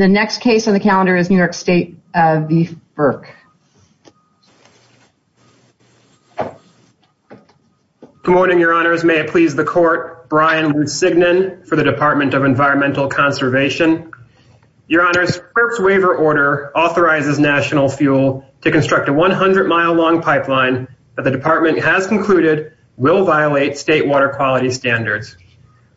and the next case on the calendar is New York State v. FERC. Good morning, your honors. May it please the court, Brian Lusignan for the Department of Environmental Conservation. Your honors, FERC's waiver order authorizes National Fuel to construct a 100-mile-long pipeline that the department has concluded will violate state water quality standards.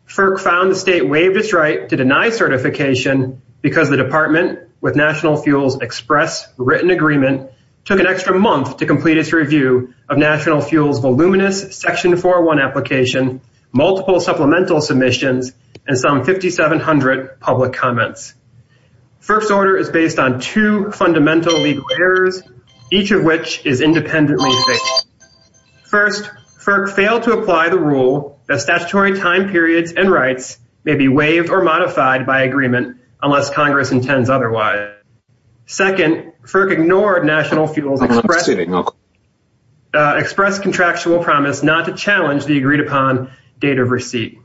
FERC found the state waived its right to deny certification because the department, with National Fuel's express written agreement, took an extra month to complete its review of National Fuel's voluminous Section 401 application, multiple supplemental submissions, and some 5,700 public comments. FERC's order is based on two fundamental legal errors, each of which is independently fixed. First, FERC failed to apply the rule that statutory time periods and rights may be waived or modified by agreement unless Congress intends otherwise. Second, FERC ignored National Fuel's express contractual promise not to challenge the agreed-upon date of receipt.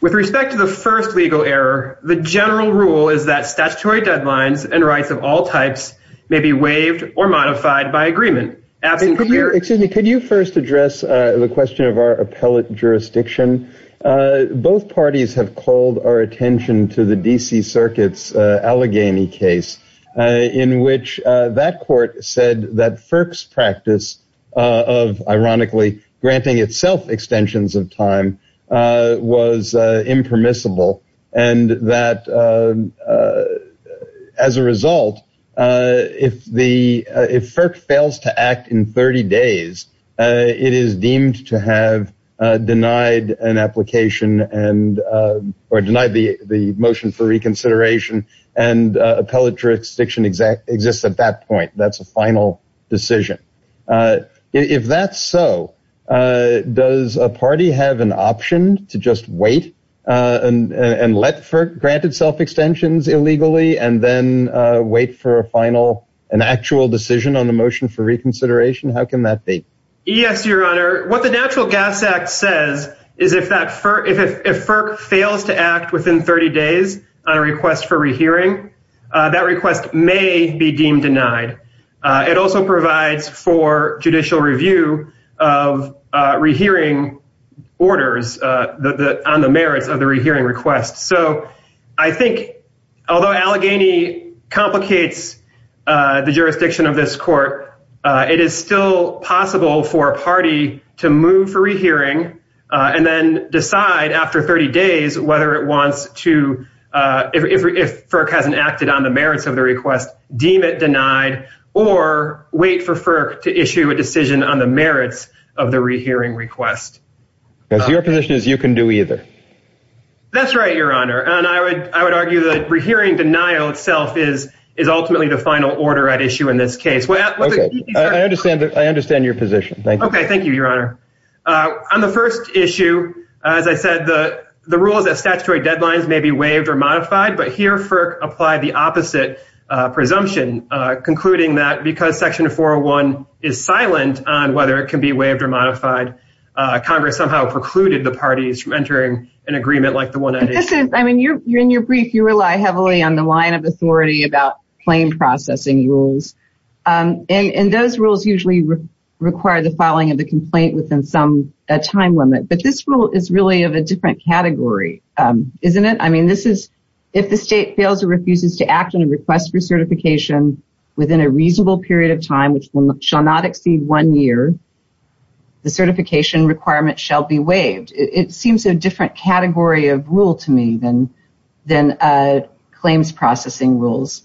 With respect to the first legal error, the general rule is that statutory deadlines and rights of all types may be waived or modified by agreement. Excuse me, could you first address the question of our appellate jurisdiction? Both parties have called our attention to the D.C. Circuit's Allegheny case in which that court said that FERC's practice of, ironically, granting itself extensions of time was impermissible and that, as a result, if FERC fails to act in 30 days, it is deemed to have denied an application or denied the motion for reconsideration and appellate jurisdiction exists at that point. That's a final decision. If that's so, does a party have an option to just wait and let FERC grant itself extensions illegally and then wait for an actual decision on a motion for reconsideration? How can that be? Yes, Your Honor. What the National Gas Act says is if FERC fails to act within 30 days on a request for rehearing, that request may be deemed denied. It also provides for judicial review of rehearing orders on the merits of the rehearing request. So I think although Allegheny complicates the jurisdiction of this court, it is still possible for a party to move for rehearing and then decide after 30 days whether it wants to, if FERC hasn't acted on the merits of the request, deem it denied or wait for FERC to issue a decision on the merits of the rehearing request. Your position is you can do either. That's right, Your Honor. I would argue that rehearing denial itself is ultimately the final order at issue in this case. I understand your position. Thank you. Thank you, Your Honor. On the first issue, as I said, the rule that statutory deadlines may be waived or modified, but here FERC applied the opposite presumption, concluding that because Section 401 is silent on whether it can be waived or modified, Congress somehow precluded the parties from entering an agreement like the one that is. In your brief, you rely heavily on the line of authority about claim processing rules, and those rules usually require the filing of a complaint within some time limit, but this rule is really of a different category, isn't it? I mean, if the state fails or refuses to act on a request for certification within a reasonable period of time, which shall not exceed one year, the certification requirement shall be waived. It seems a different category of rule to me than claims processing rules,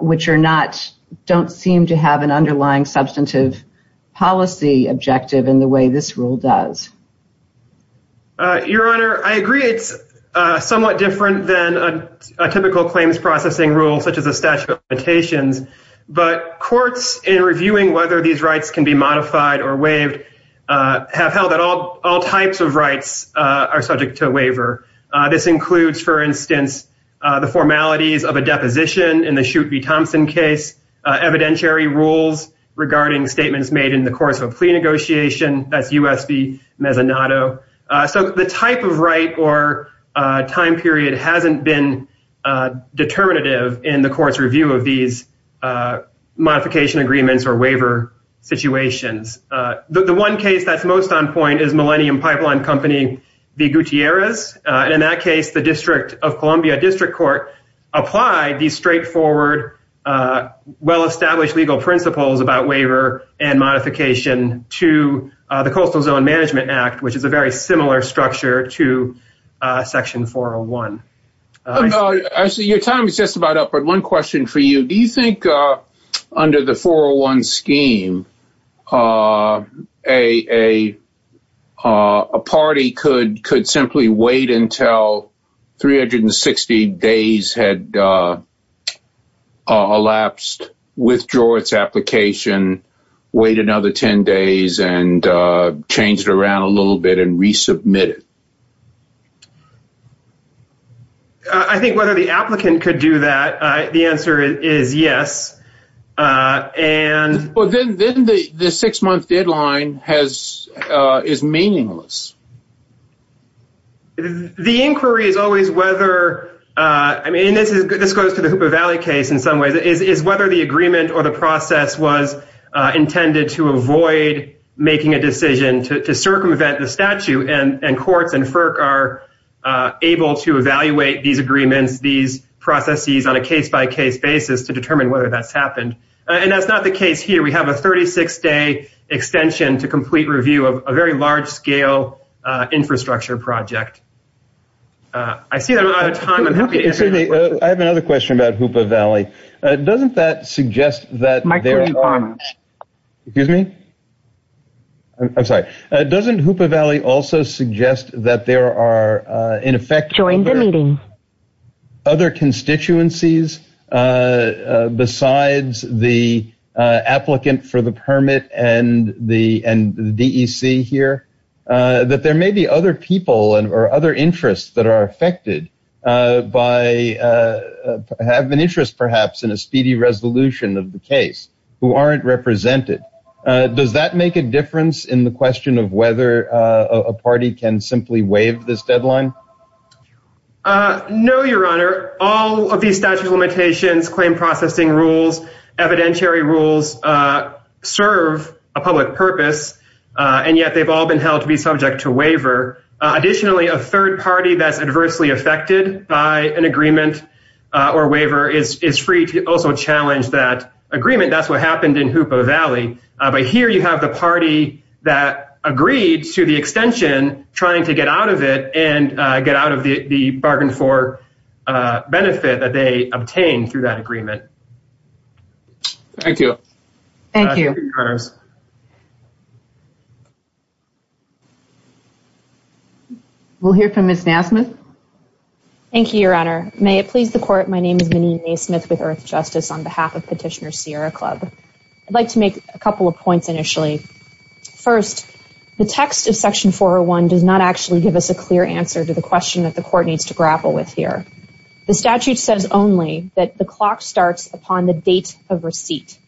which don't seem to have an underlying substantive policy objective in the way this rule does. Your Honor, I agree it's somewhat different than a typical claims processing rule such as a statute of limitations, but courts in reviewing whether these rights can be modified or waived have held that all types of rights are subject to a waiver. This includes, for instance, the formalities of a deposition in the Shute v. Thompson case, evidentiary rules regarding statements made in the course of plea negotiation at U.S. v. Mezzanotto. So the type of right or time period hasn't been determinative in the court's review of these modification agreements or waiver situations. The one case that's most on point is Millennium Pipeline Company v. Gutierrez. In that case, the District of Columbia District Court applied these straightforward, well-established legal principles about waiver and modification to the Coastal Zone Management Act, which is a very similar structure to Section 401. Actually, your time is just about up, but one question for you. Do you think under the 401 scheme a party could simply wait until 360 days had elapsed, withdraw its application, wait another 10 days, and change it around a little bit and resubmit it? I think whether the applicant could do that, the answer is yes. Well, then the six-month deadline is meaningless. The inquiry is always whether, and this goes to the Hooper Valley case in some ways, is whether the agreement or the process was intended to avoid making a decision to circumvent the statute and courts and FERC are able to evaluate these agreements, these processes, on a case-by-case basis to determine whether that's happened. And that's not the case here. We have a 36-day extension to complete review of a very large-scale infrastructure project. I see that we're out of time. Excuse me. I have another question about Hooper Valley. Doesn't that suggest that there are – Microphone problems. Excuse me? I'm sorry. Doesn't Hooper Valley also suggest that there are, in effect, other constituencies besides the applicant for the permit and the DEC here, that there may be other people or other interests that are affected by – have an interest, perhaps, in a speedy resolution of the case who aren't represented? Does that make a difference in the question of whether a party can simply waive this deadline? No, Your Honor. All of these statute limitations, claim processing rules, evidentiary rules, serve a public purpose, and yet they've all been held to be subject to waiver. Additionally, a third party that's adversely affected by an agreement or waiver is free to also challenge that agreement. That's what happened in Hooper Valley. But here you have the party that agreed to the extension trying to get out of it and get out of the bargain for benefit that they obtained through that agreement. Thank you. Thank you. We'll hear from Ms. Nassman. Thank you, Your Honor. Thank you, Your Honor. May it please the court, my name is Minnie Mae Smith with Earth Justice on behalf of Petitioner Sierra Club. I'd like to make a couple of points initially. First, the text of Section 401 does not actually give us a clear answer to the question that the court needs to grapple with here. The statute says only that the clock starts upon the date of receipt.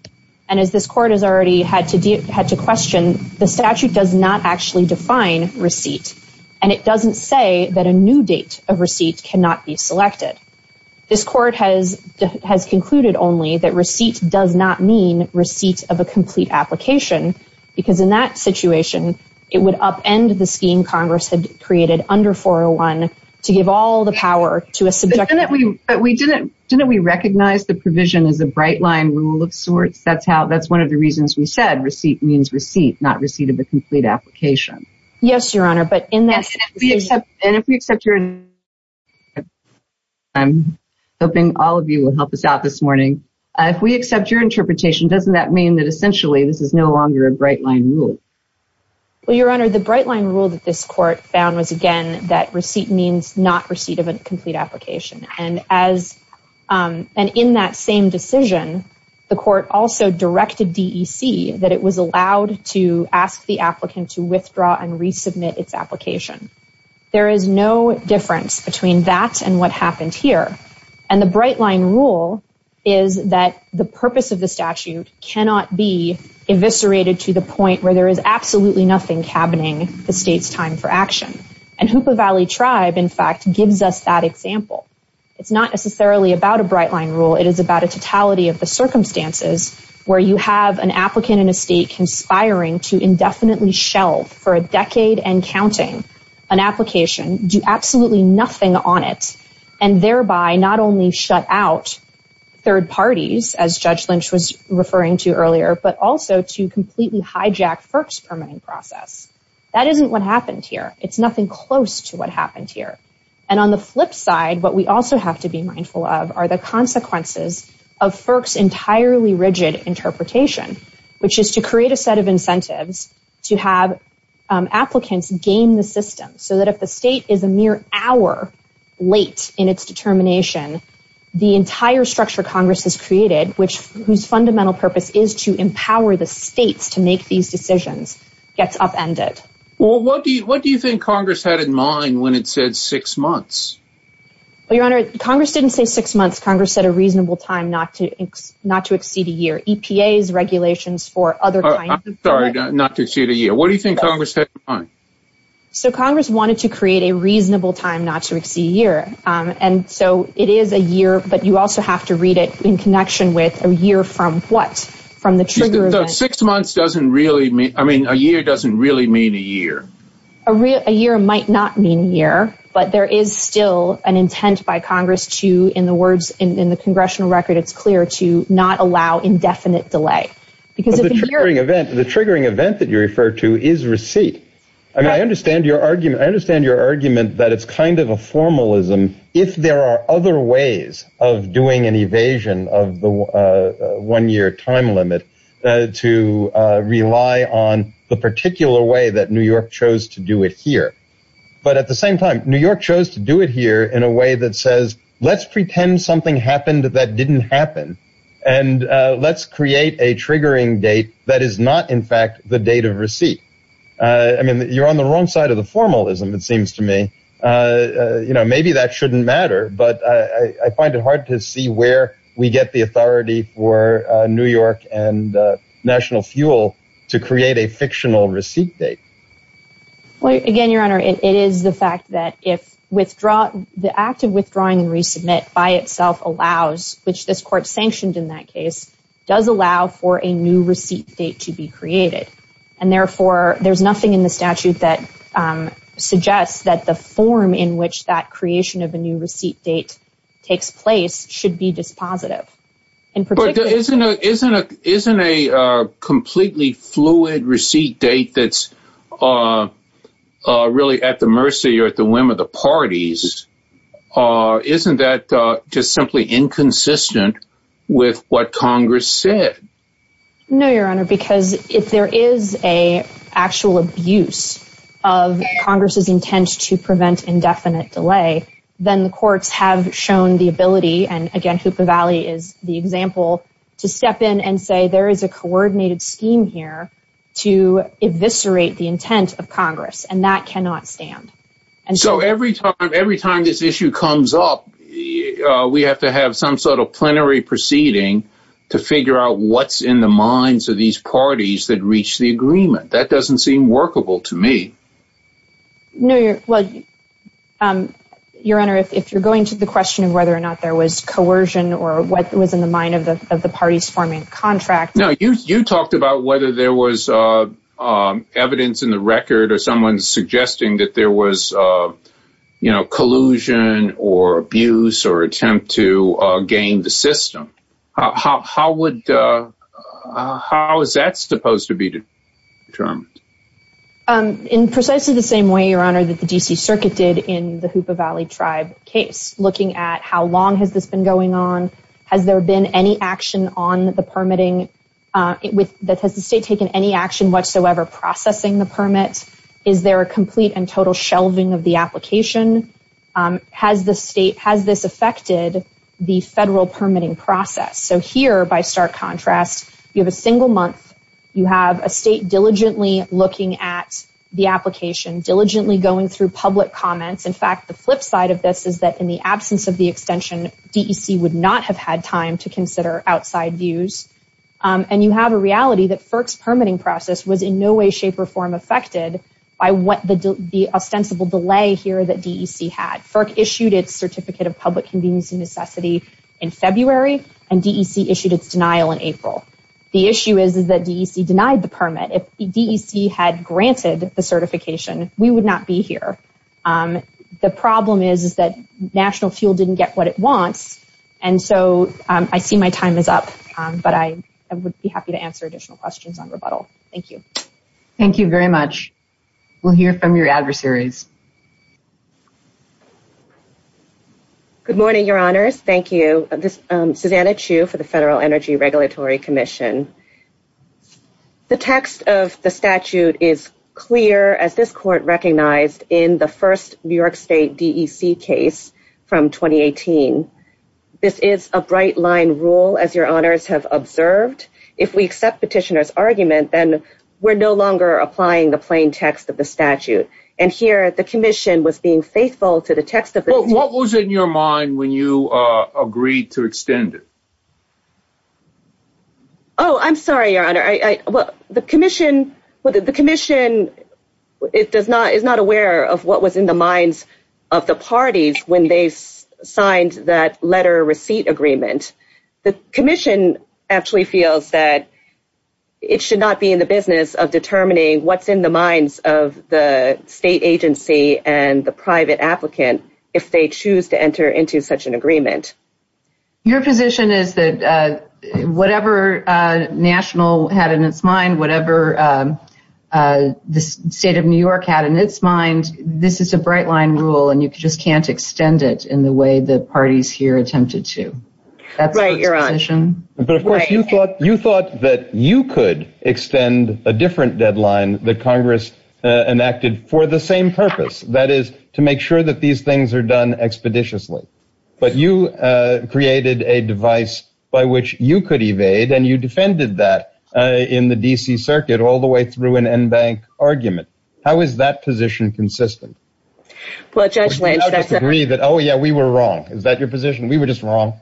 And as this court has already had to question, the statute does not actually define receipt. And it doesn't say that a new date of receipt cannot be selected. This court has concluded only that receipt does not mean receipt of a complete application. Because in that situation, it would upend the scheme Congress had created under 401 to give all the power to a subject... Didn't we recognize the provision as a bright line rule of sorts? That's one of the reasons we said receipt means receipt, not receipt of a complete application. Yes, Your Honor, but in that situation... And if we accept your... I'm hoping all of you will help us out this morning. If we accept your interpretation, doesn't that mean that essentially this is no longer a bright line rule? Well, Your Honor, the bright line rule that this court found was, again, that receipt means not receipt of a complete application. And in that same decision, the court also directed DEC that it was allowed to ask the applicant to withdraw and resubmit its application. There is no difference between that and what happened here. And the bright line rule is that the purpose of the statute cannot be eviscerated to the point where there is absolutely nothing happening that states time for action. And Hoopa Valley Tribe, in fact, gives us that example. It's not necessarily about a bright line rule. It is about a totality of the circumstances where you have an applicant in a state conspiring to indefinitely shelve for a decade and counting an application, do absolutely nothing on it, and thereby not only shut out third parties, as Judge Lynch was referring to earlier, but also to completely hijack FERC's permitting process. That isn't what happened here. It's nothing close to what happened here. And on the flip side, what we also have to be mindful of are the consequences of FERC's entirely rigid interpretation, which is to create a set of incentives to have applicants game the system so that if the state is a mere hour late in its determination, the entire structure Congress has created, whose fundamental purpose is to empower the states to make these decisions, gets upended. Well, what do you think Congress had in mind when it said six months? Your Honor, Congress didn't say six months. Congress said a reasonable time not to exceed a year. EPA's regulations for other kinds of— I'm sorry, not to exceed a year. What do you think Congress had in mind? So Congress wanted to create a reasonable time not to exceed a year. And so it is a year, but you also have to read it in connection with a year from what? Six months doesn't really mean—I mean, a year doesn't really mean a year. A year might not mean a year, but there is still an intent by Congress to, in the words in the congressional record, it's clear to not allow indefinite delay. The triggering event that you refer to is receipt. I mean, I understand your argument. I understand your argument that it's kind of a formalism if there are other ways of doing an evasion of the one-year time limit to rely on the particular way that New York chose to do it here. But at the same time, New York chose to do it here in a way that says let's pretend something happened that didn't happen, and let's create a triggering date that is not, in fact, the date of receipt. I mean, you're on the wrong side of the formalism, it seems to me. You know, maybe that shouldn't matter, but I find it hard to see where we get the authority for New York and National Fuel to create a fictional receipt date. Well, again, Your Honor, it is the fact that the act of withdrawing and resubmit by itself allows, which this court sanctioned in that case, does allow for a new receipt date to be created. And therefore, there's nothing in the statute that suggests that the form in which that creation of a new receipt date takes place should be dispositive. But isn't a completely fluid receipt date that's really at the mercy or at the whim of the parties, isn't that just simply inconsistent with what Congress said? No, Your Honor, because if there is an actual abuse of Congress's intent to prevent indefinite delay, then the courts have shown the ability, and again, Super Valley is the example, to step in and say there is a coordinated scheme here to eviscerate the intent of Congress, and that cannot stand. And so every time this issue comes up, we have to have some sort of plenary proceeding to figure out what's in the minds of these parties that reached the agreement. That doesn't seem workable to me. No, Your Honor, if you're going to the question of whether or not there was coercion or what was in the mind of the parties forming a contract... No, you talked about whether there was evidence in the record of someone suggesting that there was, you know, collusion or abuse or attempt to gain the system. How is that supposed to be determined? In precisely the same way, Your Honor, that the D.C. Circuit did in the Hoopa Valley Tribe case, looking at how long has this been going on? Has there been any action on the permitting? Has the state taken any action whatsoever processing the permit? Is there a complete and total shelving of the application? Has this affected the federal permitting process? So here, by stark contrast, you have a single month. You have a state diligently looking at the application, diligently going through public comments. In fact, the flip side of this is that in the absence of the extension, D.E.C. would not have had time to consider outside views. And you have a reality that FERC's permitting process was in no way, shape, or form affected by what the ostensible delay here that D.E.C. had. FERC issued its Certificate of Public Convenience and Necessity in February, and D.E.C. issued its denial in April. The issue is that D.E.C. denied the permit. If D.E.C. had granted the certification, we would not be here. The problem is that national fuel didn't get what it wants, and so I see my time is up, but I would be happy to answer additional questions on rebuttal. Thank you. Thank you very much. We'll hear from your adversaries. Good morning, Your Honors. Thank you. This is Savannah Chu for the Federal Energy Regulatory Commission. The text of the statute is clear, as this court recognized in the first New York State D.E.C. case from 2018. This is a bright-line rule, as Your Honors have observed. If we accept the petitioner's argument, then we're no longer applying the plain text of the statute. And here, the Commission was being faithful to the text of the statute. What was in your mind when you agreed to extend it? Oh, I'm sorry, Your Honor. The Commission is not aware of what was in the minds of the parties when they signed that letter receipt agreement. The Commission actually feels that it should not be in the business of determining what's in the minds of the state agency and the private applicant if they choose to enter into such an agreement. Your position is that whatever National had in its mind, whatever the State of New York had in its mind, this is a bright-line rule, and you just can't extend it in the way the parties here attempted to. Right, Your Honor. But, of course, you thought that you could extend a different deadline that Congress enacted for the same purpose, that is, to make sure that these things are done expeditiously. But you created a device by which you could evade, and you defended that in the D.C. Circuit all the way through an en banc argument. How is that position consistent? Well, Judge Wayne… Oh, yeah, we were wrong. Is that your position? We were just wrong.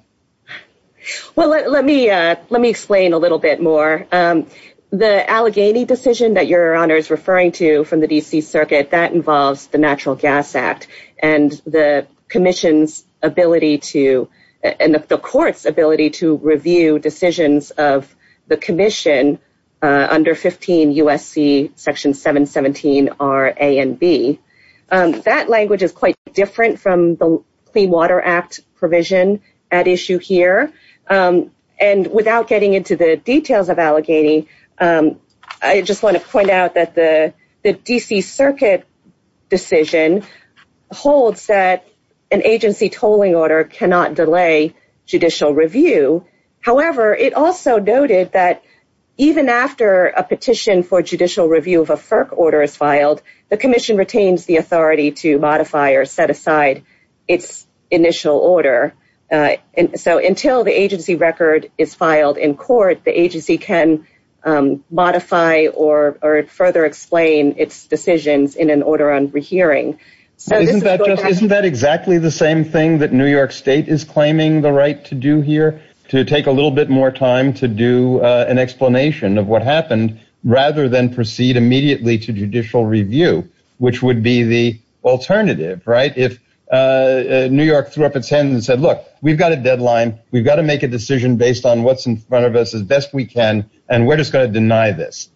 Well, let me explain a little bit more. The Allegheny decision that Your Honor is referring to from the D.C. Circuit, that involves the Natural Gas Act and the Commission's ability to… Under 15 U.S.C. Section 717, R, A, and B. That language is quite different from the Clean Water Act provision at issue here. And without getting into the details of Allegheny, I just want to point out that the D.C. Circuit decision holds that an agency tolling order cannot delay judicial review. However, it also noted that even after a petition for judicial review of a FERC order is filed, the Commission retains the authority to modify or set aside its initial order. So until the agency record is filed in court, the agency can modify or further explain its decisions in an order on rehearing. Isn't that exactly the same thing that New York State is claiming the right to do here? To take a little bit more time to do an explanation of what happened rather than proceed immediately to judicial review, which would be the alternative, right? If New York threw up its hand and said, look, we've got a deadline. We've got to make a decision based on what's in front of us as best we can, and we're just going to deny this.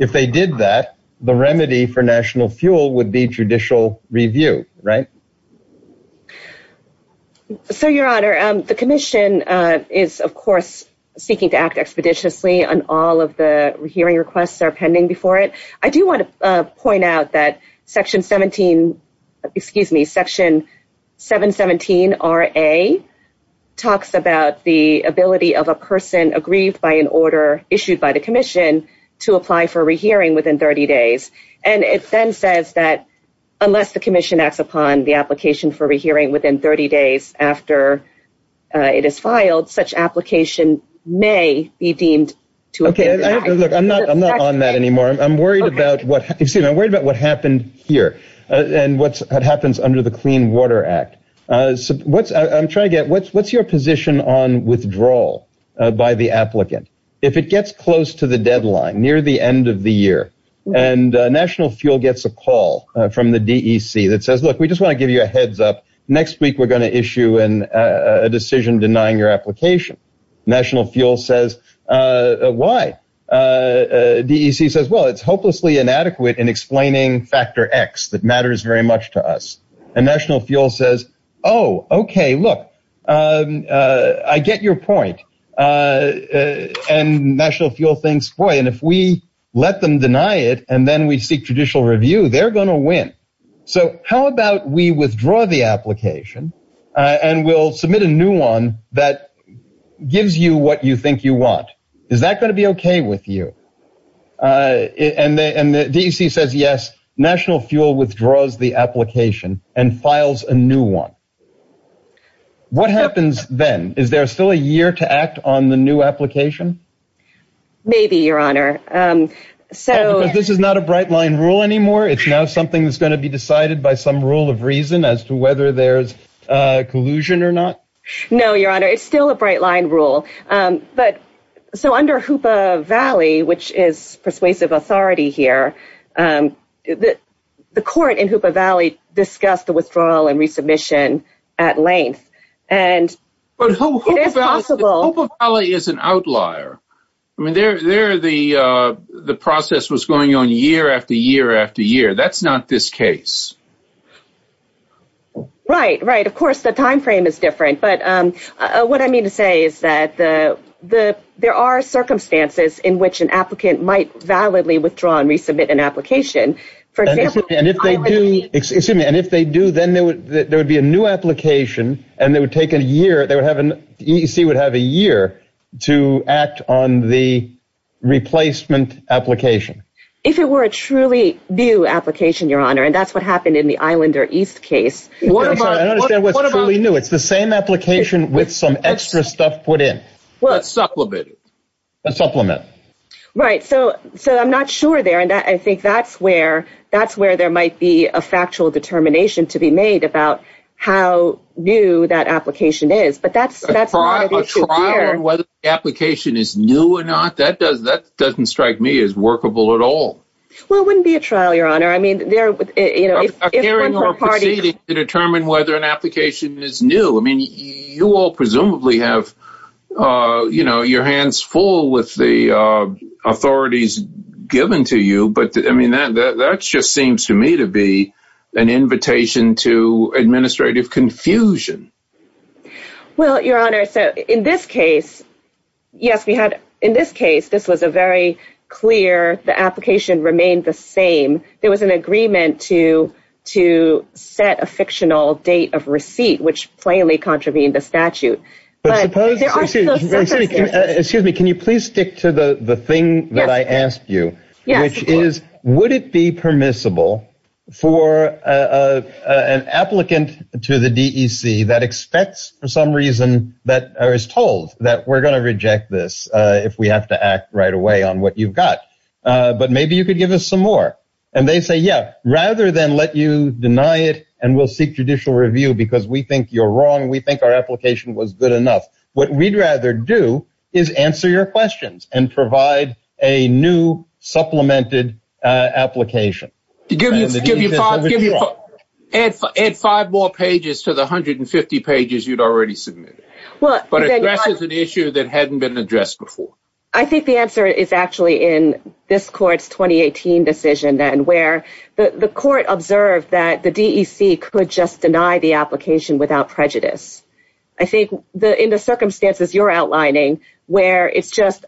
If they did that, the remedy for national fuel would be judicial review, right? So, Your Honor, the Commission is, of course, seeking to act expeditiously on all of the hearing requests are pending before it. I do want to point out that Section 717RA talks about the ability of a person aggrieved by an order issued by the Commission to apply for a rehearing within 30 days. And it then says that unless the Commission acts upon the application for rehearing within 30 days after it is filed, such application may be deemed to have been denied. I'm not on that anymore. I'm worried about what happened here and what happens under the Clean Water Act. What's your position on withdrawal by the applicant if it gets close to the deadline, near the end of the year, and national fuel gets a call from the DEC that says, look, we just want to give you a heads up. Next week, we're going to issue a decision denying your application. National fuel says, why? DEC says, well, it's hopelessly inadequate in explaining factor X that matters very much to us. And national fuel says, oh, OK, look, I get your point. And national fuel thinks, boy, and if we let them deny it and then we seek judicial review, they're going to win. So how about we withdraw the application and we'll submit a new one that gives you what you think you want? Is that going to be OK with you? And the DEC says, yes, national fuel withdraws the application and files a new one. What happens then? Is there still a year to act on the new application? Maybe, your honor. So this is not a bright line rule anymore. It's now something that's going to be decided by some rule of reason as to whether there's collusion or not. No, your honor, it's still a bright line rule. But so under Hoopa Valley, which is persuasive authority here, the court in Hoopa Valley discussed the withdrawal and resubmission at length. But Hoopa Valley is an outlier. I mean, there the process was going on year after year after year. That's not this case. Right, right. Of course, the time frame is different. But what I mean to say is that there are circumstances in which an applicant might validly withdraw and resubmit an application. And if they do, then there would be a new application and it would take a year. The DEC would have a year to act on the replacement application. If it were a truly new application, your honor, and that's what happened in the Islander East case. I don't understand what's truly new. It's the same application with some extra stuff put in. Well, a supplement. A supplement. Right. So I'm not sure there. And I think that's where that's where there might be a factual determination to be made about how new that application is. But that's part of the trial. Whether the application is new or not, that doesn't strike me as workable at all. Well, it wouldn't be a trial, your honor. I mean, there would be a hearing to determine whether an application is new. I mean, you all presumably have, you know, your hands full with the authorities given to you. But I mean, that just seems to me to be an invitation to administrative confusion. Well, your honor, in this case, yes, we had in this case, this was a very clear. The application remained the same. There was an agreement to to set a fictional date of receipt, which plainly contravened the statute. Excuse me. Can you please stick to the thing that I asked you, which is, would it be permissible for an applicant to the D.C. that expects for some reason that I was told that we're going to reject this if we have to act right away on what you've got. But maybe you could give us some more. And they say, yeah, rather than let you deny it. And we'll seek judicial review because we think you're wrong. We think our application was good enough. What we'd rather do is answer your questions and provide a new supplemented application. Give me five more pages to the hundred and fifty pages you'd already submitted. Well, that is an issue that hadn't been addressed before. I think the answer is actually in this court's 2018 decision and where the court observed that the D.C. could just deny the application without prejudice. I think that in the circumstances you're outlining where it's just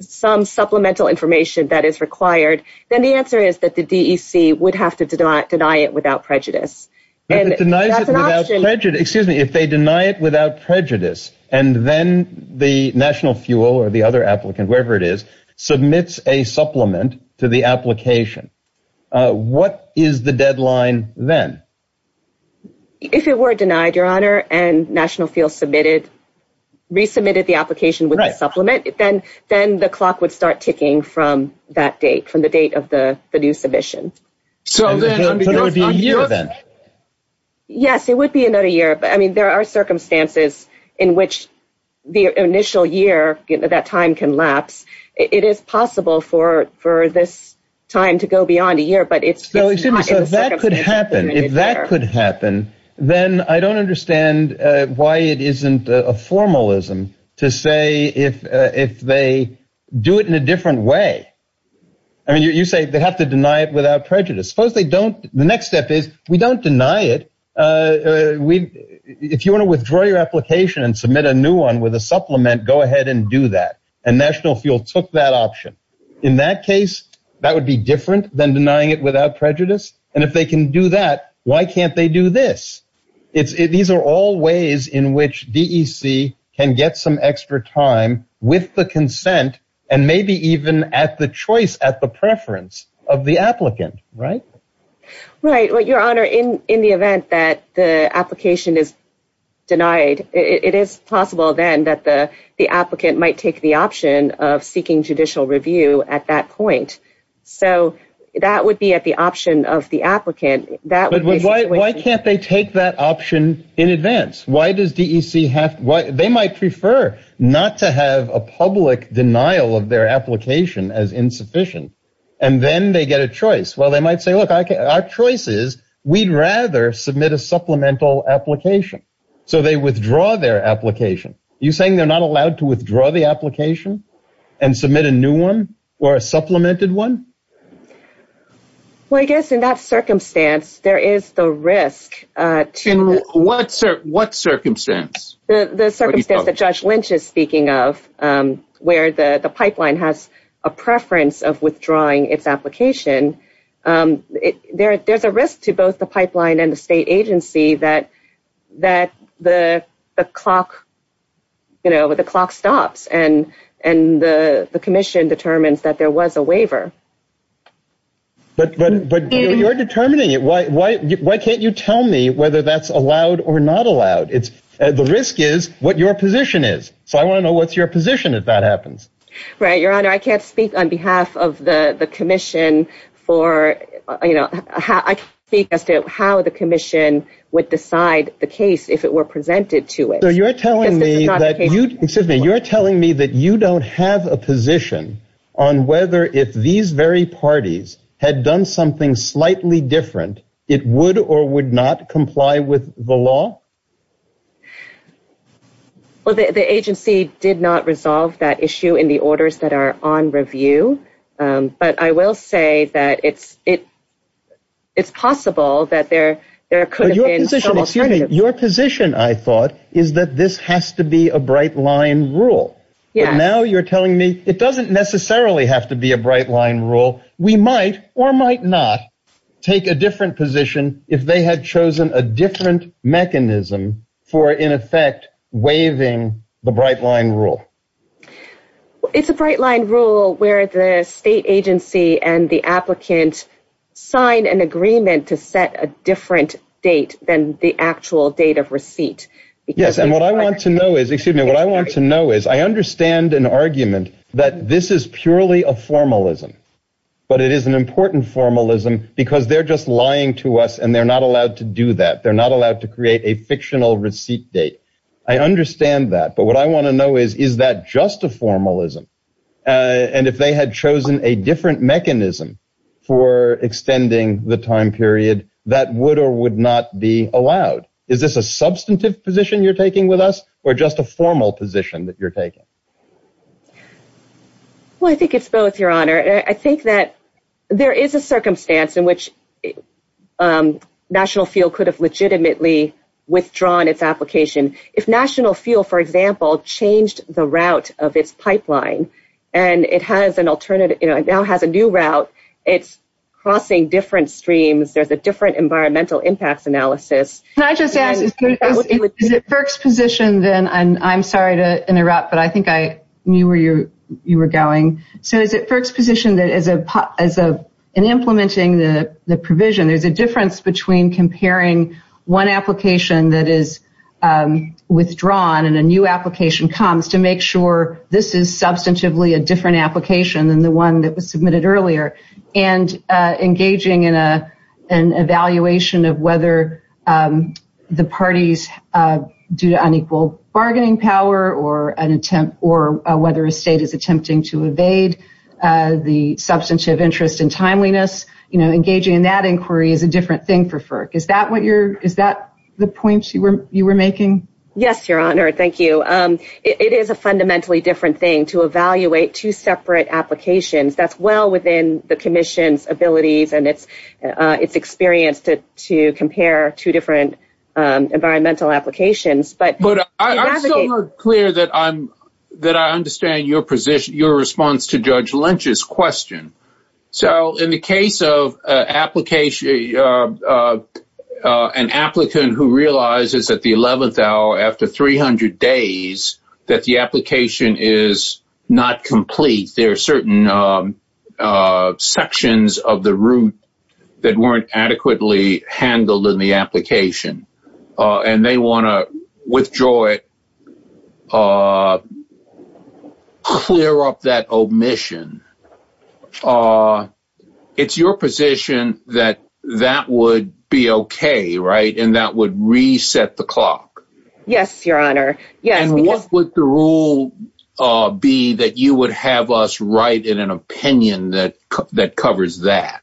some supplemental information that is required, then the answer is that the D.C. would have to deny it without prejudice. If they deny it without prejudice and then the National Fuel or the other applicant, wherever it is, submits a supplement to the application, what is the deadline then? If it were denied, Your Honor, and National Fuel resubmitted the application with the supplement, then the clock would start ticking from that date, from the date of the new submission. So it would be a year then? Yes, it would be another year. I mean, there are circumstances in which the initial year, that time can lapse. It is possible for this time to go beyond a year, but it's not in the circumstances. So if that could happen, then I don't understand why it isn't a formalism to say if they do it in a different way. I mean, you say they have to deny it without prejudice. Suppose they don't. The next step is we don't deny it. If you want to withdraw your application and submit a new one with a supplement, go ahead and do that. And National Fuel took that option. In that case, that would be different than denying it without prejudice. And if they can do that, why can't they do this? These are all ways in which DEC can get some extra time with the consent, and maybe even at the choice, at the preference of the applicant, right? Right. Your Honor, in the event that the application is denied, it is possible then that the applicant might take the option of seeking judicial review at that point. So that would be at the option of the applicant. But why can't they take that option in advance? They might prefer not to have a public denial of their application as insufficient. And then they get a choice. Well, they might say, look, our choice is we'd rather submit a supplemental application. So they withdraw their application. Are you saying they're not allowed to withdraw the application and submit a new one or a supplemented one? Well, I guess in that circumstance, there is the risk. In what circumstance? The circumstance that Judge Lynch is speaking of, where the pipeline has a preference of withdrawing its application. There's a risk to both the pipeline and the state agency that the clock stops and the commission determines that there was a waiver. But you're determining it. Why can't you tell me whether that's allowed or not allowed? The risk is what your position is. So I want to know what's your position if that happens. Right. Your Honor, I can't speak on behalf of the commission for, you know, I can speak as to how the commission would decide the case if it were presented to it. So you're telling me that you don't have a position on whether if these very parties had done something slightly different, it would or would not comply with the law? Well, the agency did not resolve that issue in the orders that are on review. But I will say that it's possible that there could have been some alternative. Your position, I thought, is that this has to be a bright-line rule. Now you're telling me it doesn't necessarily have to be a bright-line rule. We might or might not take a different position if they had chosen a different mechanism for, in effect, waiving the bright-line rule. It's a bright-line rule where the state agency and the applicant sign an agreement to set a different date than the actual date of receipt. Yes, and what I want to know is, excuse me, what I want to know is I understand an argument that this is purely a formalism. But it is an important formalism because they're just lying to us and they're not allowed to do that. They're not allowed to create a fictional receipt date. I understand that, but what I want to know is, is that just a formalism? And if they had chosen a different mechanism for extending the time period, that would or would not be allowed. Is this a substantive position you're taking with us or just a formal position that you're taking? Well, I think it's both, Your Honor. I think that there is a circumstance in which National Fuel could have legitimately withdrawn its application. If National Fuel, for example, changed the route of its pipeline and it now has a new route, it's crossing different streams. There's a different environmental impact analysis. Can I just add, is it FERC's position then? I'm sorry to interrupt, but I think I knew where you were going. So is it FERC's position that in implementing the provision, there's a difference between comparing one application that is withdrawn and a new application comes to make sure this is substantively a different application than the one that was submitted earlier and engaging in an evaluation of whether the parties do unequal bargaining power or whether a state is attempting to evade the substantive interest in timeliness? Engaging in that inquiry is a different thing for FERC. Is that the point you were making? Yes, Your Honor. Thank you. It is a fundamentally different thing to evaluate two separate applications. That's well within the Commission's abilities and its experience to compare two different environmental applications. But I'm still not clear that I understand your response to Judge Lynch's question. So in the case of an applicant who realizes at the 11th hour after 300 days that the application is not complete, there are certain sections of the route that weren't adequately handled in the application, and they want to withdraw it, clear up that omission. It's your position that that would be okay, right, and that would reset the clock? Yes, Your Honor. And what would the rule be that you would have us write in an opinion that covers that?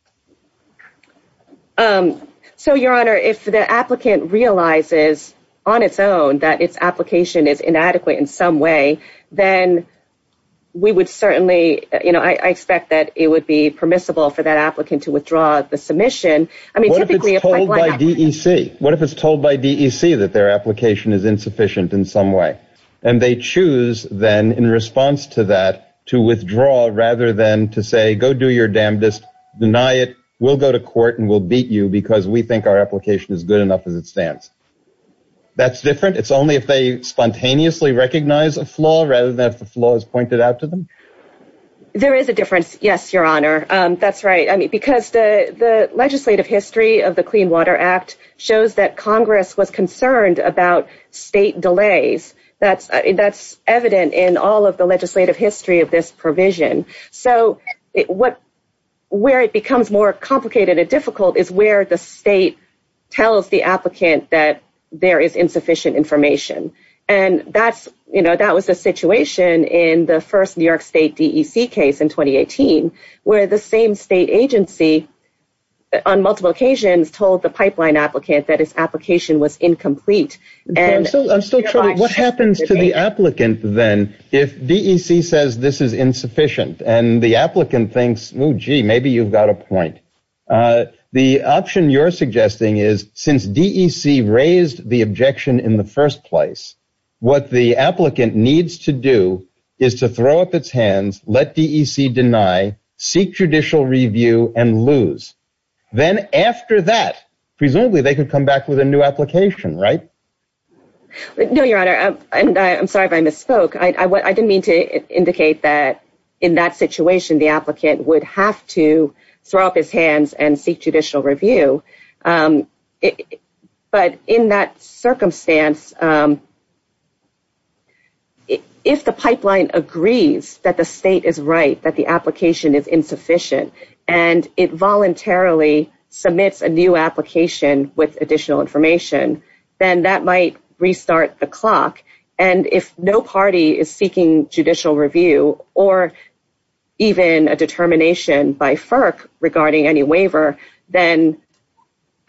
So, Your Honor, if the applicant realizes on its own that its application is inadequate in some way, then we would certainly – I expect that it would be permissible for that applicant to withdraw the submission. What if it's told by DEC? What if it's told by DEC that their application is insufficient in some way? And they choose, then, in response to that, to withdraw rather than to say, go do your damnedest, deny it, we'll go to court and we'll beat you because we think our application is good enough as it stands. That's different? It's only if they spontaneously recognize a flaw rather than if the flaw is pointed out to them? There is a difference, yes, Your Honor. That's right, because the legislative history of the Clean Water Act shows that Congress was concerned about state delays. That's evident in all of the legislative history of this provision. So, where it becomes more complicated and difficult is where the state tells the applicant that there is insufficient information. And that was the situation in the first New York State DEC case in 2018, where the same state agency, on multiple occasions, told the pipeline applicant that its application was incomplete. So, what happens to the applicant, then, if DEC says this is insufficient and the applicant thinks, oh, gee, maybe you've got a point? The option you're suggesting is, since DEC raised the objection in the first place, what the applicant needs to do is to throw up its hands, let DEC deny, seek judicial review, and lose. Then, after that, presumably, they can come back with a new application, right? No, Your Honor. I'm sorry if I misspoke. I didn't mean to indicate that, in that situation, the applicant would have to throw up his hands and seek judicial review. But, in that circumstance, if the pipeline agrees that the state is right, that the application is insufficient, and it voluntarily submits a new application with additional information, then that might restart the clock. And, if no party is seeking judicial review, or even a determination by FERC regarding any waiver, then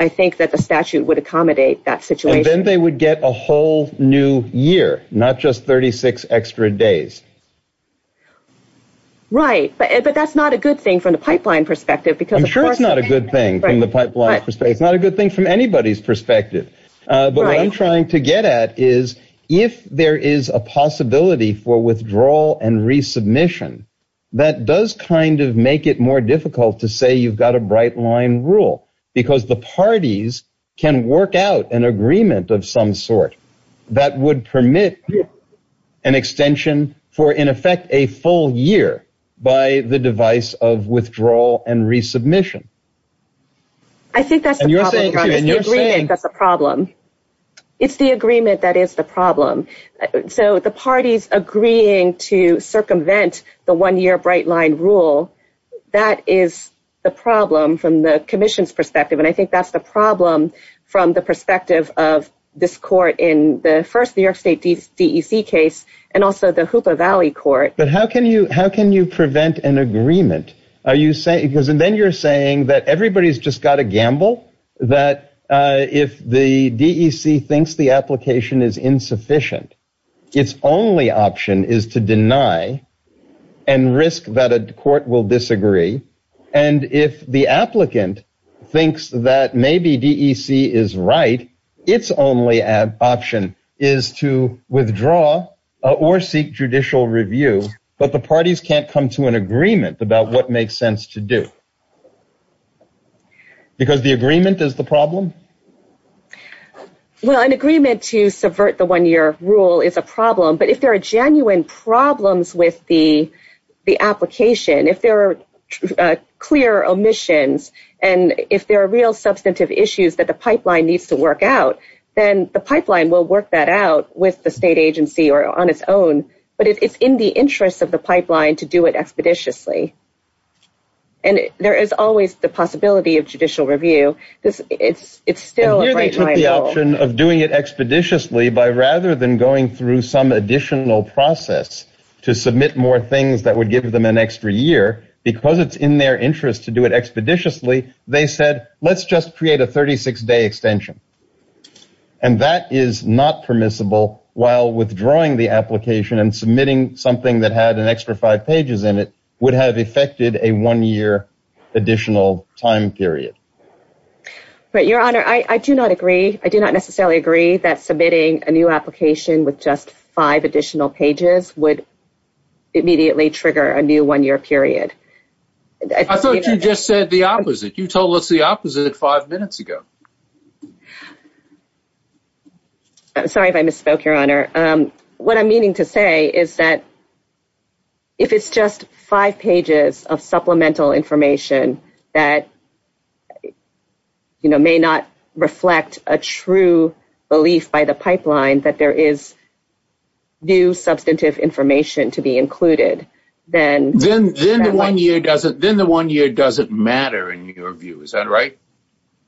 I think that the statute would accommodate that situation. And then they would get a whole new year, not just 36 extra days. Right, but that's not a good thing from the pipeline perspective. I'm sure it's not a good thing from the pipeline perspective. It's not a good thing from anybody's perspective. But what I'm trying to get at is, if there is a possibility for withdrawal and resubmission, that does kind of make it more difficult to say you've got a bright line rule. Because the parties can work out an agreement of some sort that would permit an extension for, in effect, a full year by the device of withdrawal and resubmission. I think that's the problem. It's the agreement that is the problem. So, the parties agreeing to circumvent the one-year bright line rule, that is the problem from the commission's perspective. And I think that's the problem from the perspective of this court in the first New York State DEC case, and also the Hoopa Valley court. But how can you prevent an agreement? Because then you're saying that everybody's just got to gamble. That if the DEC thinks the application is insufficient, its only option is to deny and risk that a court will disagree. And if the applicant thinks that maybe DEC is right, its only option is to withdraw or seek judicial review. But the parties can't come to an agreement about what makes sense to do. Because the agreement is the problem? Well, an agreement to subvert the one-year rule is a problem. But if there are genuine problems with the application, if there are clear omissions, and if there are real substantive issues that the pipeline needs to work out, then the pipeline will work that out with the state agency or on its own. But it's in the interest of the pipeline to do it expeditiously. And there is always the possibility of judicial review. And here they took the option of doing it expeditiously by rather than going through some additional process to submit more things that would give them an extra year, because it's in their interest to do it expeditiously, they said, let's just create a 36-day extension. And that is not permissible while withdrawing the application and submitting something that had an extra five pages in it would have affected a one-year additional time period. But, Your Honor, I do not agree. I do not necessarily agree that submitting a new application with just five additional pages would immediately trigger a new one-year period. I thought you just said the opposite. You told us the opposite five minutes ago. I'm sorry if I misspoke, Your Honor. What I'm meaning to say is that if it's just five pages of supplemental information that may not reflect a true belief by the pipeline that there is new substantive information to be included, then the one year doesn't matter in your view. Is that right?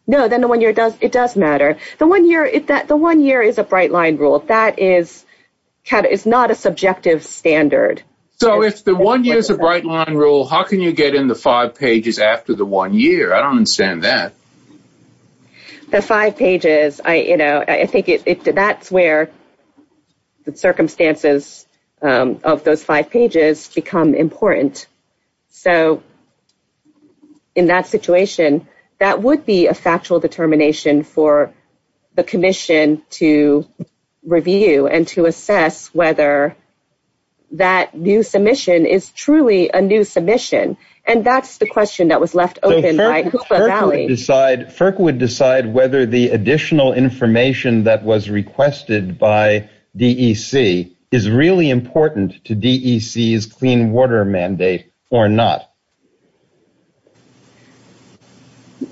No, then the one year does matter. The one year is a bright line rule. That is not a subjective standard. So if the one year is a bright line rule, how can you get in the five pages after the one year? I don't understand that. The five pages, I think that's where the circumstances of those five pages become important. So in that situation, that would be a factual determination for the commission to review and to assess whether that new submission is truly a new submission. And that's the question that was left open by Cooper Valley. FERC would decide whether the additional information that was requested by DEC is really important to DEC's clean water mandate or not.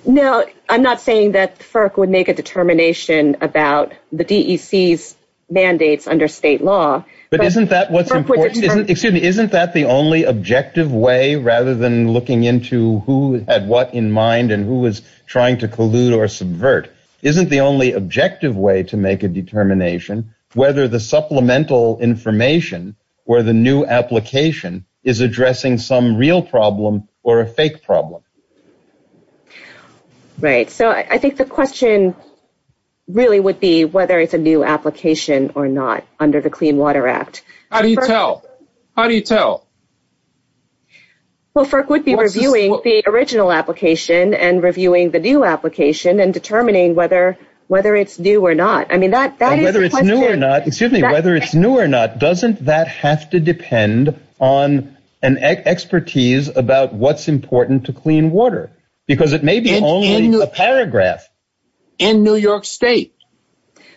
No, I'm not saying that FERC would make a determination about the DEC's mandates under state law. But isn't that what's important? Excuse me, isn't that the only objective way rather than looking into who had what in mind and who was trying to collude or subvert? Isn't the only objective way to make a determination whether the supplemental information or the new application is addressing some real problem or a fake problem? Right. So I think the question really would be whether it's a new application or not under the Clean Water Act. How do you tell? How do you tell? Well, FERC would be reviewing the original application and reviewing the new application and determining whether it's new or not. Whether it's new or not, doesn't that have to depend on an expertise about what's important to clean water? Because it may be only a paragraph. In New York State.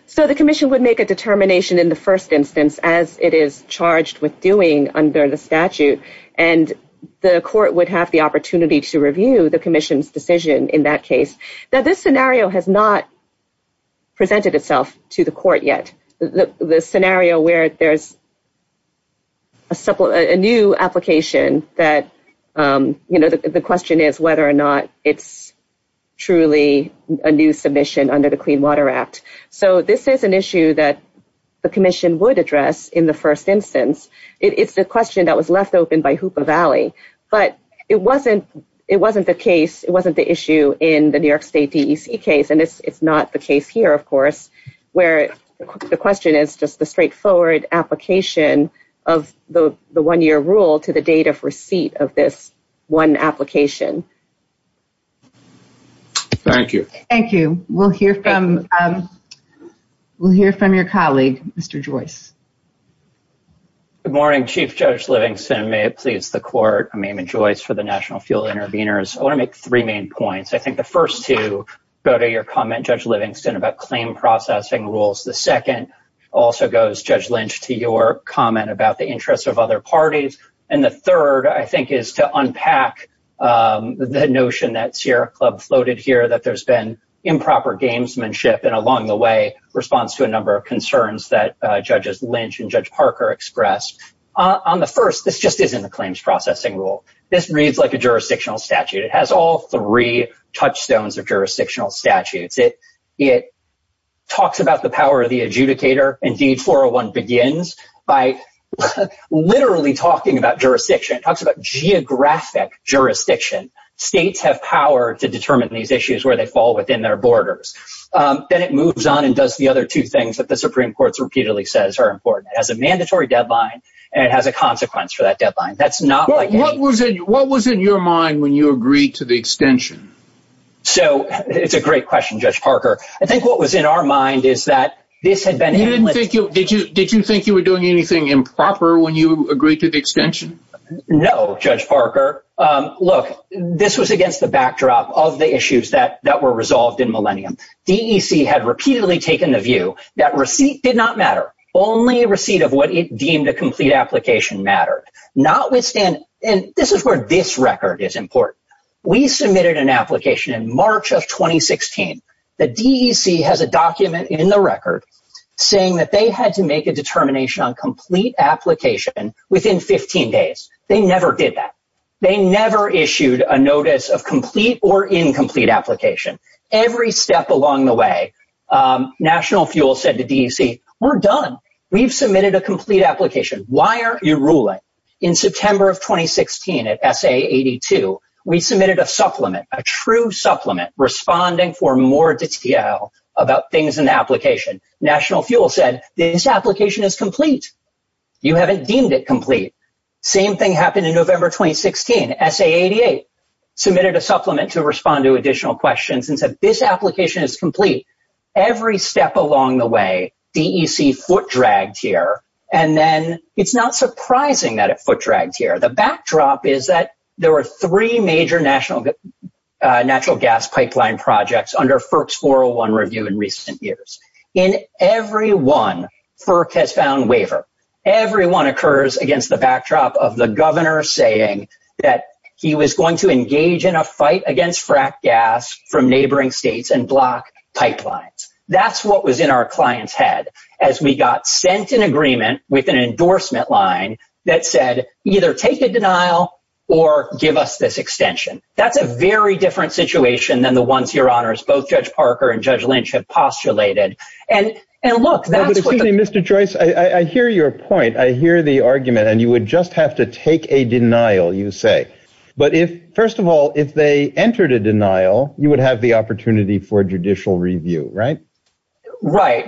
So the commission would make a determination in the first instance as it is charged with doing under the statute. And the court would have the opportunity to review the commission's decision in that case. Now this scenario has not presented itself to the court yet. The scenario where there's a new application that, you know, the question is whether or not it's truly a new submission under the Clean Water Act. So this is an issue that the commission would address in the first instance. It's the question that was left open by Hoopa Valley. But it wasn't the case. It wasn't the issue in the New York State DEC case. And it's not the case here, of course, where the question is just the straightforward application of the one year rule to the date of receipt of this one application. Thank you. Thank you. We'll hear from your colleague, Mr. Joyce. Good morning, Chief Judge Livingston. May it please the court. My name is Joyce for the National Fuel Intervenors. I want to make three main points. I think the first two go to your comment, Judge Livingston, about claim processing rules. The second also goes, Judge Lynch, to your comment about the interests of other parties. And the third, I think, is to unpack the notion that Sierra Club floated here, that there's been improper gamesmanship and along the way, response to a number of concerns that Judges Lynch and Judge Parker expressed. On the first, this just isn't a claims processing rule. This reads like a jurisdictional statute. It has all three touchstones of jurisdictional statutes. It talks about the power of the adjudicator. Indeed, 401 begins by literally talking about jurisdiction. It talks about geographic jurisdiction. States have power to determine these issues where they fall within their borders. Then it moves on and does the other two things that the Supreme Court repeatedly says are important. It has a mandatory deadline and it has a consequence for that deadline. What was in your mind when you agreed to the extension? It's a great question, Judge Parker. I think what was in our mind is that this had been a— Did you think you were doing anything improper when you agreed to the extension? No, Judge Parker. Look, this was against the backdrop of the issues that were resolved in Millennium. DEC had repeatedly taken the view that receipt did not matter. Only receipt of what it deemed a complete application mattered. Notwithstanding—and this is where this record is important. We submitted an application in March of 2016. The DEC has a document in the record saying that they had to make a determination on complete application within 15 days. They never did that. They never issued a notice of complete or incomplete application. Every step along the way, National Fuel said to DEC, we're done. We've submitted a complete application. Why aren't you ruling? In September of 2016 at SA82, we submitted a supplement, a true supplement, responding for more detail about things in the application. National Fuel said, this application is complete. You haven't deemed it complete. Same thing happened in November 2016. SA88 submitted a supplement to respond to additional questions and said, this application is complete. Every step along the way, DEC foot-dragged here. And then it's not surprising that it foot-dragged here. The backdrop is that there were three major natural gas pipeline projects under FERC's 401 review in recent years. In every one, FERC has found waiver. Every one occurs against the backdrop of the governor saying that he was going to engage in a fight against fracked gas from neighboring states and block pipelines. That's what was in our client's head as we got sent an agreement with an endorsement line that said either take a denial or give us this extension. That's a very different situation than the ones your honors, both Judge Parker and Judge Lynch have postulated. Mr. Joyce, I hear your point. I hear the argument. And you would just have to take a denial, you say. But first of all, if they entered a denial, you would have the opportunity for judicial review, right? Right.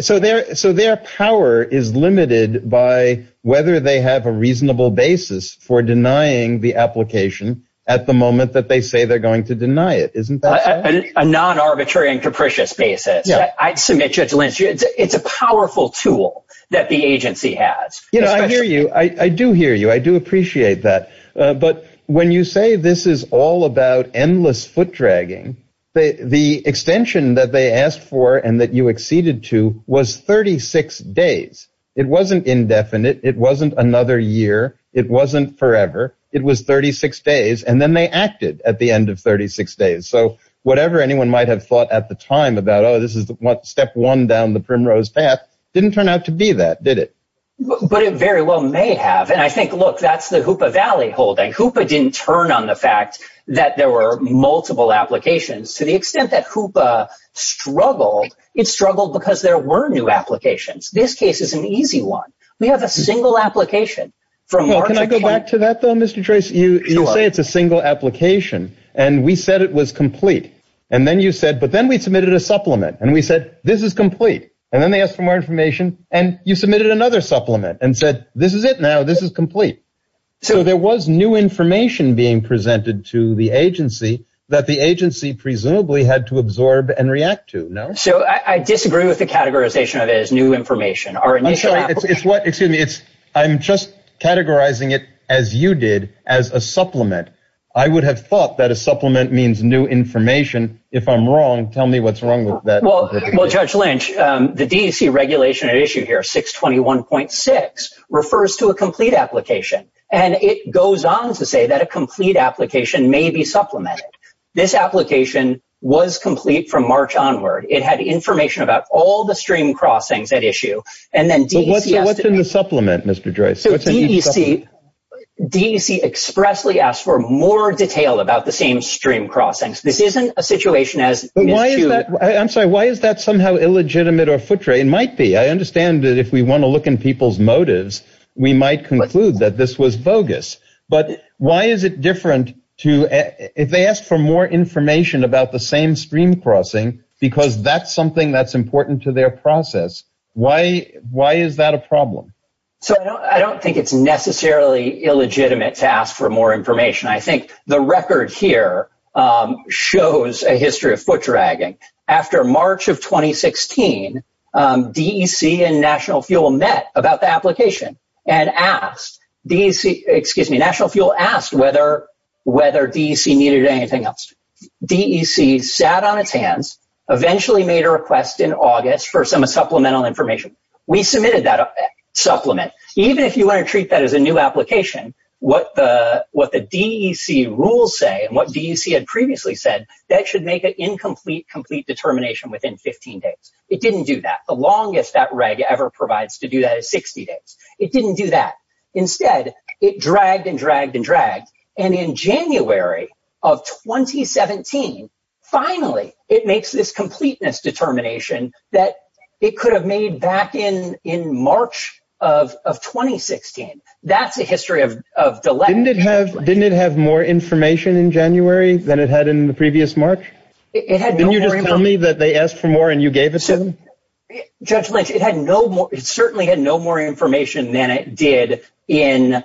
So their power is limited by whether they have a reasonable basis for denying the application at the moment that they say they're going to deny it, isn't that right? On a non-arbitrary and capricious basis, I submit Judge Lynch, it's a powerful tool that the agency has. You know, I hear you. I do hear you. I do appreciate that. But when you say this is all about endless foot dragging, the extension that they asked for and that you acceded to was 36 days. It wasn't indefinite. It wasn't another year. It wasn't forever. It was 36 days. And then they acted at the end of 36 days. So whatever anyone might have thought at the time about, oh, this is step one down the primrose path, didn't turn out to be that, did it? But it very well may have. And I think, look, that's the Hoopa Valley holding. Hoopa didn't turn on the fact that there were multiple applications. To the extent that Hoopa struggled, it struggled because there were new applications. This case is an easy one. We have a single application. Can I go back to that, though, Mr. Tracy? You say it's a single application. And we said it was complete. And then you said, but then we submitted a supplement. And we said, this is complete. And then they asked for more information. And you submitted another supplement and said, this is it now. This is complete. So there was new information being presented to the agency that the agency presumably had to absorb and react to, no? So I disagree with the categorization of it as new information. Excuse me. I'm just categorizing it as you did, as a supplement. I would have thought that a supplement means new information. If I'm wrong, tell me what's wrong with that. Well, Judge Lynch, the DEC regulation at issue here, 621.6, refers to a complete application. And it goes on to say that a complete application may be supplemented. This application was complete from March onward. It had information about all the stream crossings at issue. And then DEC. What's in the supplement, Mr. Joyce? So DEC expressly asked for more detail about the same stream crossings. This isn't a situation as. I'm sorry. Why is that somehow illegitimate or footray? It might be. I understand that if we want to look in people's motives, we might conclude that this was bogus. But why is it different to. If they ask for more information about the same stream crossing, because that's something that's important to their process. Why? Why is that a problem? So I don't think it's necessarily illegitimate to ask for more information. I think the record here shows a history of foot dragging. After March of 2016, DEC and National Fuel met about the application. And asked, DEC, excuse me, National Fuel asked whether DEC needed anything else. DEC sat on its hands, eventually made a request in August for some supplemental information. We submitted that supplement. Even if you want to treat that as a new application, what the DEC rules say, and what DEC had previously said, that should make an incomplete, complete determination within 15 days. It didn't do that. The longest that reg ever provides to do that is 60 days. It didn't do that. Instead, it dragged and dragged and dragged. And in January of 2017, finally, it makes this completeness determination that it could have made back in March of 2016. That's the history of the letter. Didn't it have more information in January than it had in the previous March? Didn't you just tell me that they asked for more and you gave it to them? It certainly had no more information than it did in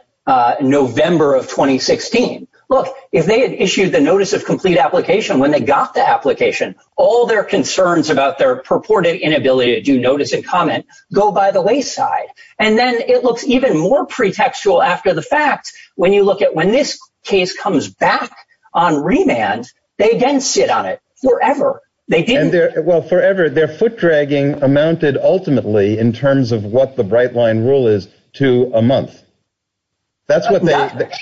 November of 2016. Look, if they had issued the notice of complete application when they got the application, all their concerns about their purported inability to do notice and comment go by the wayside. And then it looks even more pretextual after the fact when you look at when this case comes back on remand, they didn't sit on it forever. They didn't. Well, forever. Their foot dragging amounted ultimately in terms of what the Bright Line rule is to a month. That's the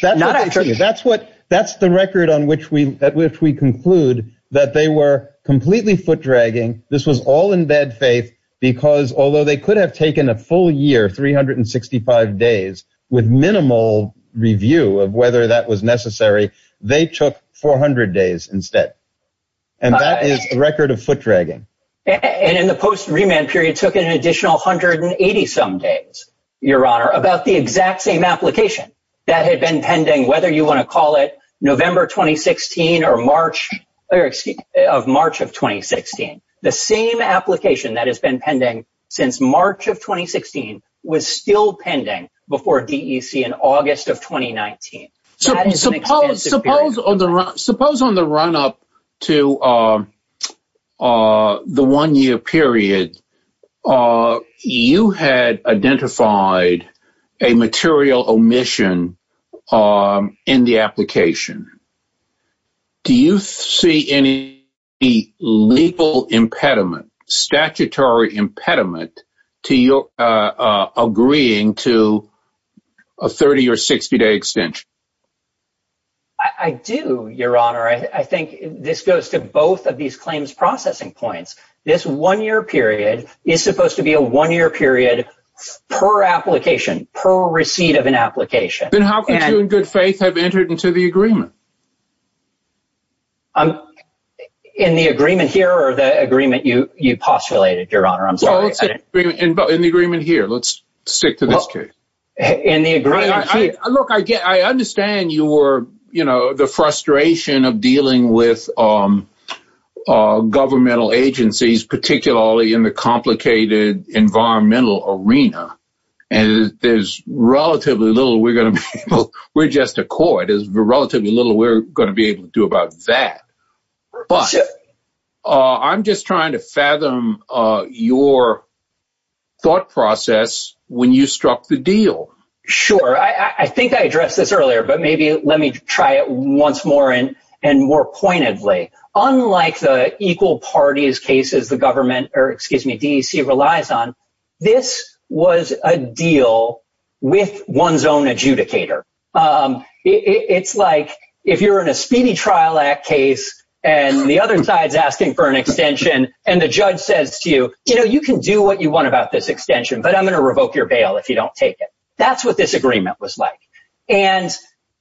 record on which we conclude that they were completely foot dragging. This was all in bad faith because although they could have taken a full year, 365 days with minimal review of whether that was necessary, they took 400 days instead. And that is the record of foot dragging. And in the post remand period, it took an additional 180 some days, Your Honor, about the exact same application that had been pending whether you want to call it November 2016 or March of 2016. The same application that has been pending since March of 2016 was still pending before DEC in August of 2019. Suppose on the run up to the one-year period, you had identified a material omission in the application. Do you see any legal impediment, statutory impediment to your agreeing to a 30- or 60-day extension? I do, Your Honor. I think this goes to both of these claims processing points. This one-year period is supposed to be a one-year period per application, per receipt of an application. Then how can you in good faith have entered into the agreement? In the agreement here or the agreement you postulated, Your Honor? I'm sorry. In the agreement here. Let's stick to this case. Look, I understand you were, you know, the frustration of dealing with governmental agencies, particularly in the complicated environmental arena. There's relatively little we're going to be able to do about that. I'm just trying to fathom your thought process when you struck the deal. Sure. I think I addressed this earlier, but maybe let me try it once more and more pointedly. Unlike the equal parties cases the government or, excuse me, DEC relies on, this was a deal with one's own adjudicator. It's like if you're in a speedy trial act case and the other side is asking for an extension and the judge says to you, you know, you can do what you want about this extension, but I'm going to revoke your bail if you don't take it. That's what this agreement was like.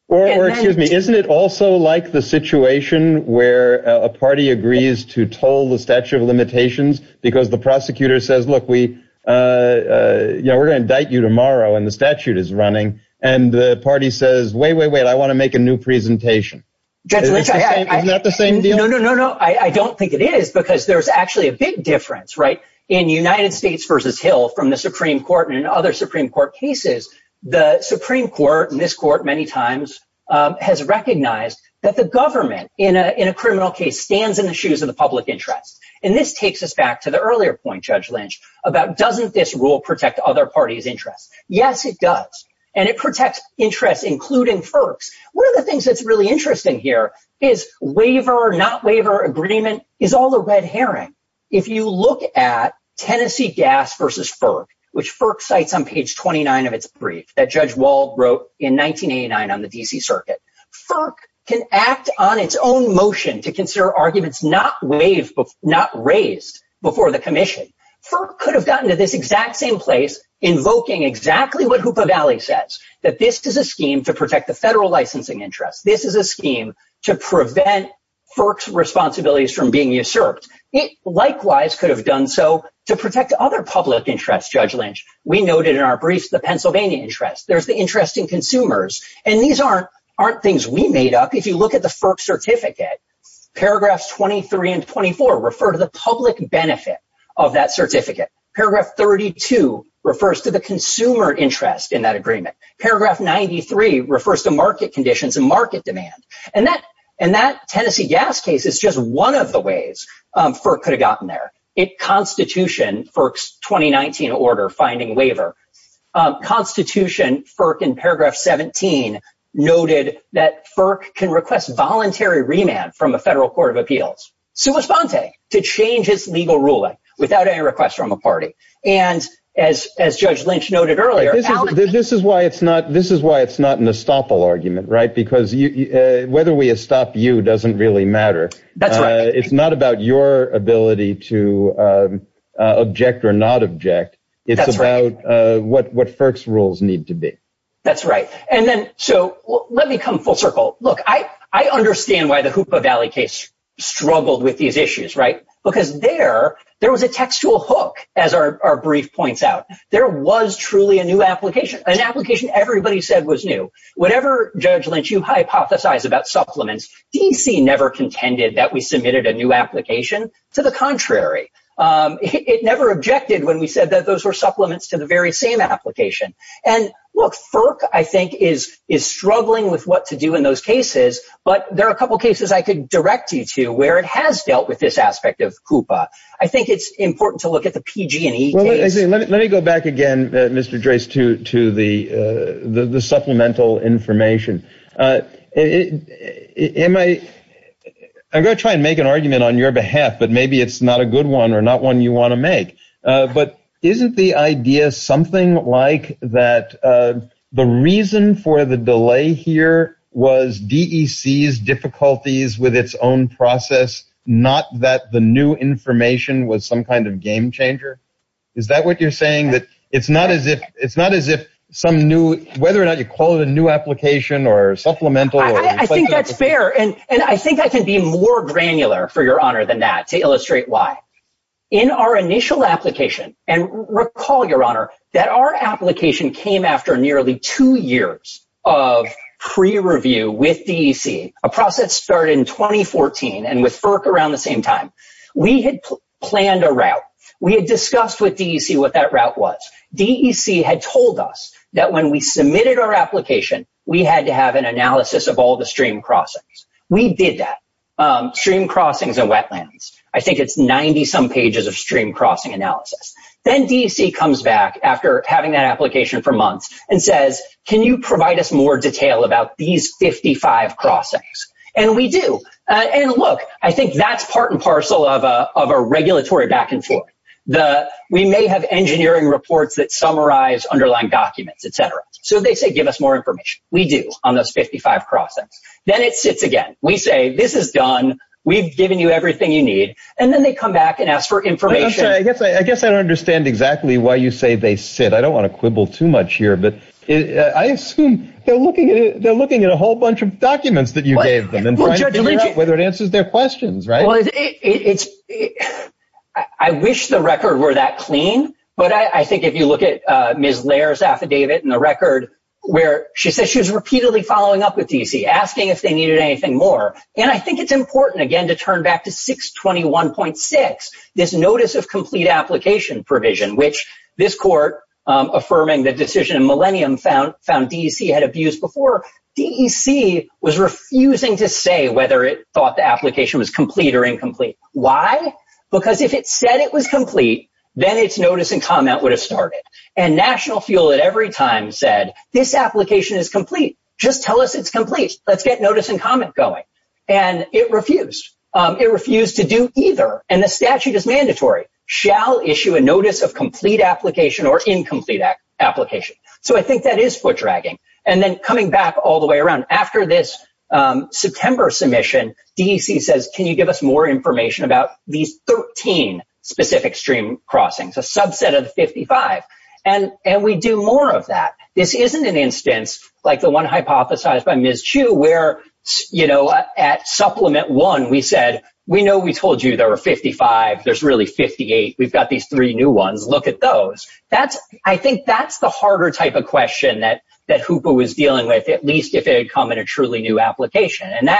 Or, excuse me, isn't it also like the situation where a party agrees to toll the statute of limitations because the prosecutor says, look, we're going to indict you tomorrow and the statute is running and the party says, wait, wait, wait, I want to make a new presentation. Isn't that the same deal? No, no, no, no. I don't think it is because there's actually a big difference, right? In United States v. Hill from the Supreme Court and other Supreme Court cases, the Supreme Court and this court many times has recognized that the government, in a criminal case, stands in the shoes of the public interest. And this takes us back to the earlier point, Judge Lynch, about doesn't this rule protect other parties' interests? Yes, it does. And it protects interests, including FERC's. One of the things that's really interesting here is waiver, not waiver agreement, is all a red herring. If you look at Tennessee Gas v. FERC, which FERC cites on page 29 of its brief that Judge Wald wrote in 1989 on the D.C. Circuit, FERC can act on its own motion to consider arguments not raised before the commission. FERC could have gotten to this exact same place invoking exactly what Hoopa Valley says, that this is a scheme to protect the federal licensing interest. This is a scheme to prevent FERC's responsibilities from being usurped. It likewise could have done so to protect other public interests, Judge Lynch. We noted in our brief the Pennsylvania interest. There's the interest in consumers. And these aren't things we made up. If you look at the FERC certificate, paragraphs 23 and 24 refer to the public benefit of that certificate. Paragraph 32 refers to the consumer interest in that agreement. Paragraph 93 refers to market conditions and market demand. And that Tennessee Gas case is just one of the ways FERC could have gotten there. In constitution, FERC's 2019 order finding waiver, constitution, FERC in paragraph 17, noted that FERC can request voluntary remand from a federal court of appeals, sui sante, to change its legal ruling without any request from a party. And as Judge Lynch noted earlier- This is why it's not an estoppel argument, right? Because whether we estop you doesn't really matter. It's not about your ability to object or not object. It's about what FERC's rules need to be. That's right. So let me come full circle. Look, I understand why the Hoopa Valley case struggled with these issues, right? Because there was a textual hook, as our brief points out. There was truly a new application. An application everybody said was new. Whatever, Judge Lynch, you hypothesize about supplements, DEC never contended that we submitted a new application. To the contrary. It never objected when we said that those were supplements to the very same application. And look, FERC, I think, is struggling with what to do in those cases. But there are a couple cases I could direct you to where it has dealt with this aspect of Hoopa. I think it's important to look at the PG&E case. Let me go back again, Mr. Drace, to the supplemental information. I'm going to try and make an argument on your behalf, but maybe it's not a good one or not one you want to make. But isn't the idea something like that the reason for the delay here was DEC's difficulties with its own process, not that the new information was some kind of game changer? Is that what you're saying? It's not as if whether or not you call it a new application or supplemental. I think that's fair. And I think I can be more granular for your honor than that to illustrate why. In our initial application, and recall, your honor, that our application came after nearly two years of pre-review with DEC. A process started in 2014 and with FERC around the same time. We had planned a route. We had discussed with DEC what that route was. DEC had told us that when we submitted our application, we had to have an analysis of all the stream crossings. We did that. Stream crossings are wetlands. I think it's 90-some pages of stream crossing analysis. Then DEC comes back after having that application for months and says, can you provide us more detail about these 55 crossings? And we do. And look, I think that's part and parcel of a regulatory back and forth. We may have engineering reports that summarize underlying documents, et cetera. So they say give us more information. We do on those 55 crossings. Then it sits again. We say this is done. We've given you everything you need. And then they come back and ask for information. I guess I don't understand exactly why you say they sit. I don't want to quibble too much here. I assume they're looking at a whole bunch of documents that you gave them and trying to figure out whether it answers their questions, right? I wish the record were that clean. But I think if you look at Ms. Lair's affidavit and the record where she says she was repeatedly following up with DEC, asking if they needed anything more. And I think it's important, again, to turn back to 621.6, this notice of complete application provision, which this court affirming the decision in Millennium found DEC had abused before. DEC was refusing to say whether it thought the application was complete or incomplete. Why? Because if it said it was complete, then its notice and comment would have started. And National Fuel at every time said this application is complete. Just tell us it's complete. Let's get notice and comment going. And it refused. It refused to do either. And the statute is mandatory. Shall issue a notice of complete application or incomplete application. So I think that is foot dragging. And then coming back all the way around, after this September submission, DEC says, can you give us more information about these 13 specific stream crossings, a subset of 55? And we do more of that. This isn't an instance like the one hypothesized by Ms. Chu where, you know, at supplement one, we said, we know we told you there were 55. There's really 58. We've got these three new ones. Look at those. I think that's the harder type of question that HOOPA was dealing with, at least if it had come in a truly new application. And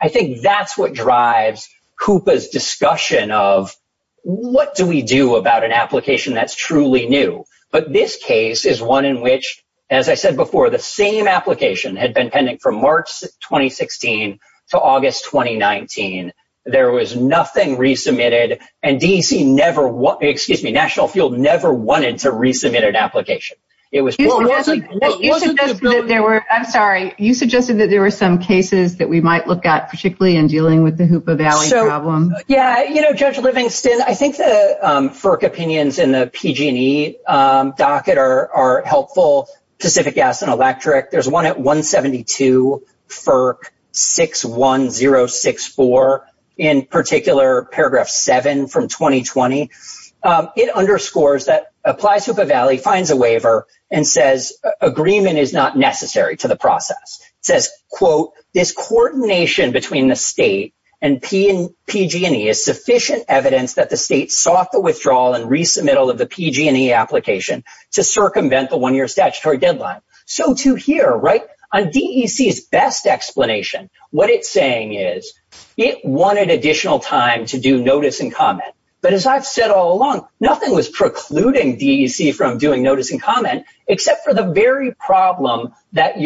I think that's what drives HOOPA's discussion of what do we do about an application that's truly new? But this case is one in which, as I said before, the same application had been pending from March 2016 to August 2019. There was nothing resubmitted. And DEC never ‑‑ excuse me, National Field never wanted to resubmit an application. It was ‑‑ I'm sorry. You suggested that there were some cases that we might look at, particularly in dealing with the HOOPA value problem. Yeah. You know, Judge Livingston, I think the FERC opinions in the PG&E docket are helpful, Pacific Gas and Electric. There's one at 172 FERC 61064, in particular paragraph 7 from 2020. It underscores that Applied HOOPA Value finds a waiver and says agreement is not necessary to the process. It says, quote, this coordination between the state and PG&E is sufficient evidence that the state sought the withdrawal and resubmittal of the PG&E application to circumvent the one‑year statutory deadline. So, to hear, right, on DEC's best explanation, what it's saying is it wanted additional time to do notice and comment. But as I've said all along, nothing was precluding DEC from doing notice and comment, except for the very problem that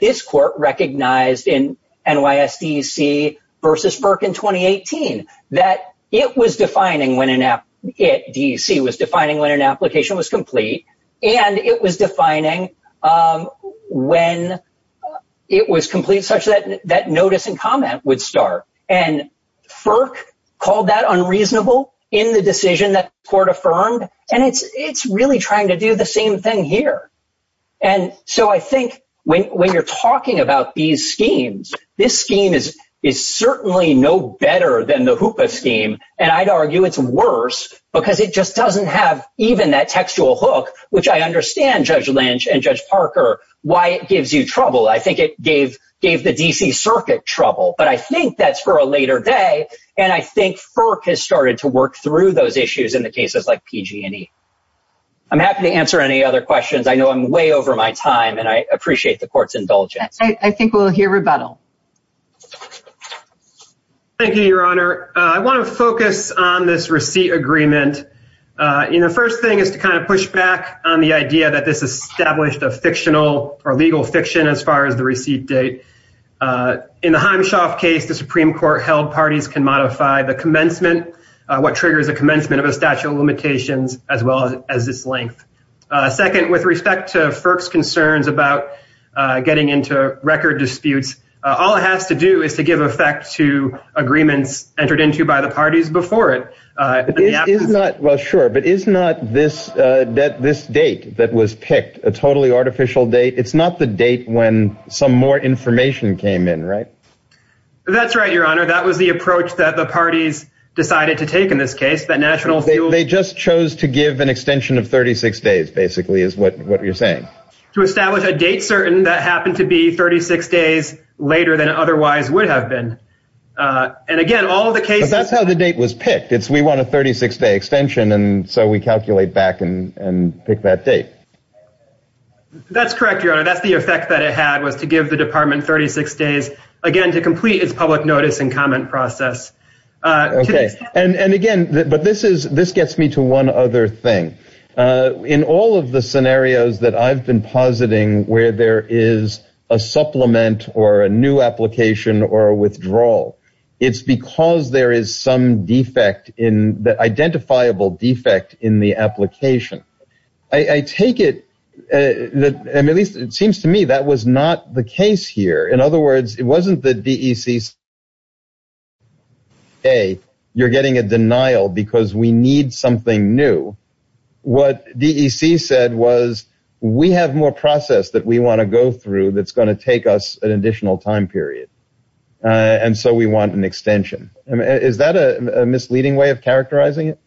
this court recognized in NYSDC versus FERC in 2018, that it was defining when an ‑‑ DEC was defining when an application was complete, and it was defining when it was complete such that notice and comment would start. And FERC called that unreasonable in the decision that the court affirmed, and it's really trying to do the same thing here. And so I think when you're talking about these schemes, this scheme is certainly no better than the HOOPA scheme, and I'd argue it's worse, because it just doesn't have even that textual hook, which I understand, Judge Lynch and Judge Parker, why it gives you trouble. I think it gave the D.C. Circuit trouble, but I think that's for a later day, and I think FERC has started to work through those issues in the cases like PG&E. I'm happy to answer any other questions. I know I'm way over my time, and I appreciate the court's indulgence. I think we'll hear rebuttal. Thank you, Your Honor. I want to focus on this receipt agreement. The first thing is to kind of push back on the idea that this established a fictional or legal fiction as far as the receipt date. In the Himeshoff case, the Supreme Court held parties can modify the commencement, what triggers the commencement of a statute of limitations, as well as its length. Second, with respect to FERC's concerns about getting into record disputes, all it has to do is to give effect to agreements entered into by the parties before it. Well, sure, but is not this date that was picked a totally artificial date? It's not the date when some more information came in, right? That's right, Your Honor. That was the approach that the parties decided to take in this case. They just chose to give an extension of 36 days, basically, is what you're saying. To establish a date certain that happened to be 36 days later than it otherwise would have been. That's how the date was picked. We want a 36-day extension, and so we calculate back and pick that date. That's correct, Your Honor. That's the effect that it had, was to give the department 36 days, again, to complete its public notice and comment process. Okay. And again, but this gets me to one other thing. In all of the scenarios that I've been positing where there is a supplement or a new application or a withdrawal, it's because there is some defect in the identifiable defect in the application. I take it, and it seems to me that was not the case here. In other words, it wasn't the DEC saying, hey, you're getting a denial because we need something new. What DEC said was, we have more process that we want to go through that's going to take us an additional time period, and so we want an extension. Is that a misleading way of characterizing it?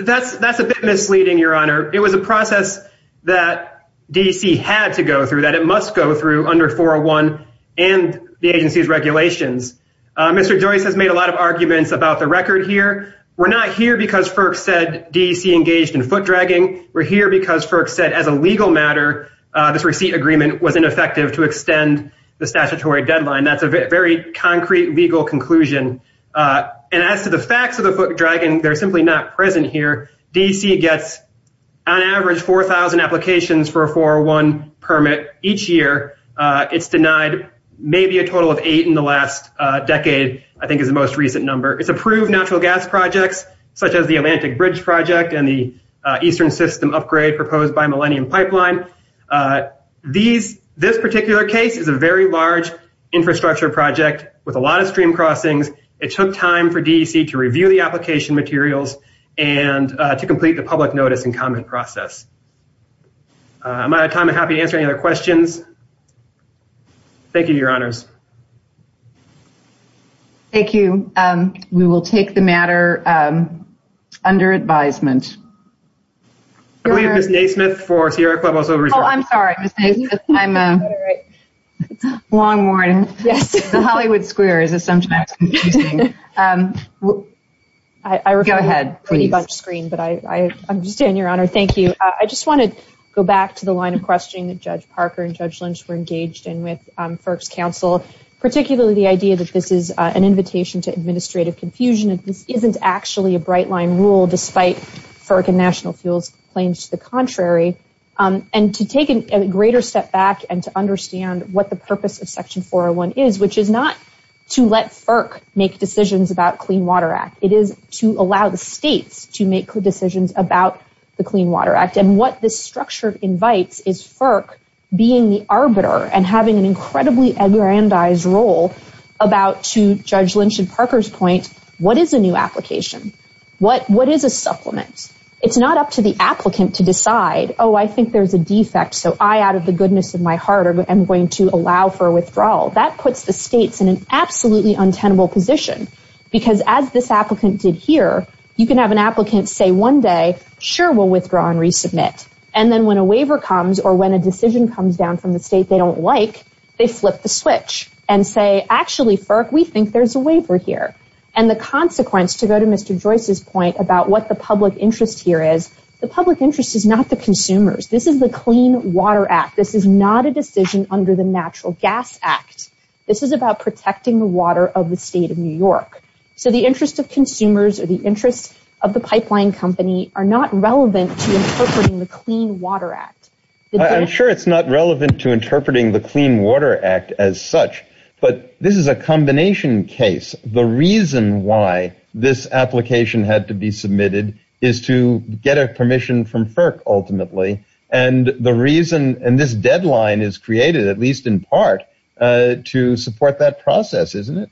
That's a bit misleading, Your Honor. It was a process that DEC had to go through, that it must go through under 401 and the agency's regulations. Mr. Joyce has made a lot of arguments about the record here. We're not here because FERC said DEC engaged in foot dragging. We're here because FERC said, as a legal matter, this receipt agreement was ineffective to extend the statutory deadline. That's a very concrete legal conclusion. As to the facts of the foot dragging, they're simply not present here. DEC gets, on average, 4,000 applications for a 401 permit each year. It's denied maybe a total of eight in the last decade, I think is the most recent number. It's approved natural gas projects, such as the Atlantic Bridge Project and the Eastern System upgrade proposed by Millennium Pipeline. This particular case is a very large infrastructure project with a lot of stream crossings. It took time for DEC to review the application materials and to complete the public notice and comment process. Am I out of time? I'm happy to answer any other questions. Thank you, Your Honors. Thank you. We will take the matter under advisement. I'm sorry. I'm long-worn. Hollywood Square is sometimes confusing. Go ahead, please. I'm just saying, Your Honor, thank you. I just want to go back to the line of questioning that Judge Parker and Judge Lynch were engaged in with FERC's counsel, particularly the idea that this is an invitation to administrative confusion. This isn't actually a bright line rule, despite FERC and National Fuel's claims to the contrary. And to take a greater step back and to understand what the purpose of Section 401 is, which is not to let FERC make decisions about Clean Water Act. It is to allow the state to make good decisions about the Clean Water Act. And what this structure invites is FERC being the arbiter and having an incredibly aggrandized role about, to Judge Lynch and Parker's point, what is a new application? What is a supplement? It's not up to the applicant to decide, oh, I think there's a defect. So I, out of the goodness of my heart, am going to allow for a withdrawal. And then when a waiver comes or when a decision comes down from the state they don't like, they flip the switch and say, actually, FERC, we think there's a waiver here. And the consequence, to go to Mr. Joyce's point about what the public interest here is, the public interest is not the consumers. This is the Clean Water Act. This is not a decision under the Natural Gas Act. This is about protecting the water of the state of New York. So the interest of consumers or the interest of the pipeline company are not relevant to interpreting the Clean Water Act. I'm sure it's not relevant to interpreting the Clean Water Act as such, but this is a combination case. The reason why this application had to be submitted is to get a permission from FERC, ultimately. And the reason, and this deadline is created, at least in part, to support that process, isn't it?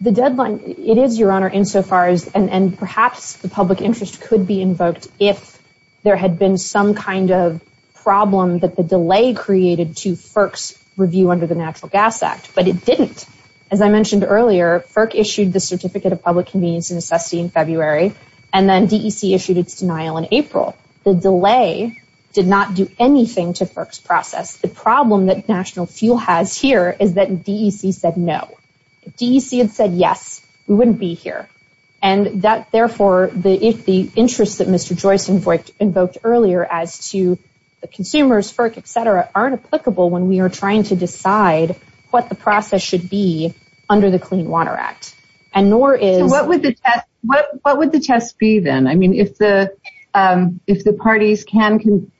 The deadline, it is, Your Honor, insofar as, and perhaps the public interest could be invoked if there had been some kind of problem that the delay created to FERC's review under the Natural Gas Act, but it didn't. As I mentioned earlier, FERC issued the Certificate of Public Convenience in February, and then DEC issued its denial in April. The delay did not do anything to FERC's process. The problem that National Steel has here is that DEC said no. If DEC had said yes, we wouldn't be here. And that, therefore, the interest that Mr. Joyce invoked earlier as to the consumers, FERC, etc., aren't applicable when we are trying to decide what the process should be under the Clean Water Act. What would the test be then? I mean, if the parties can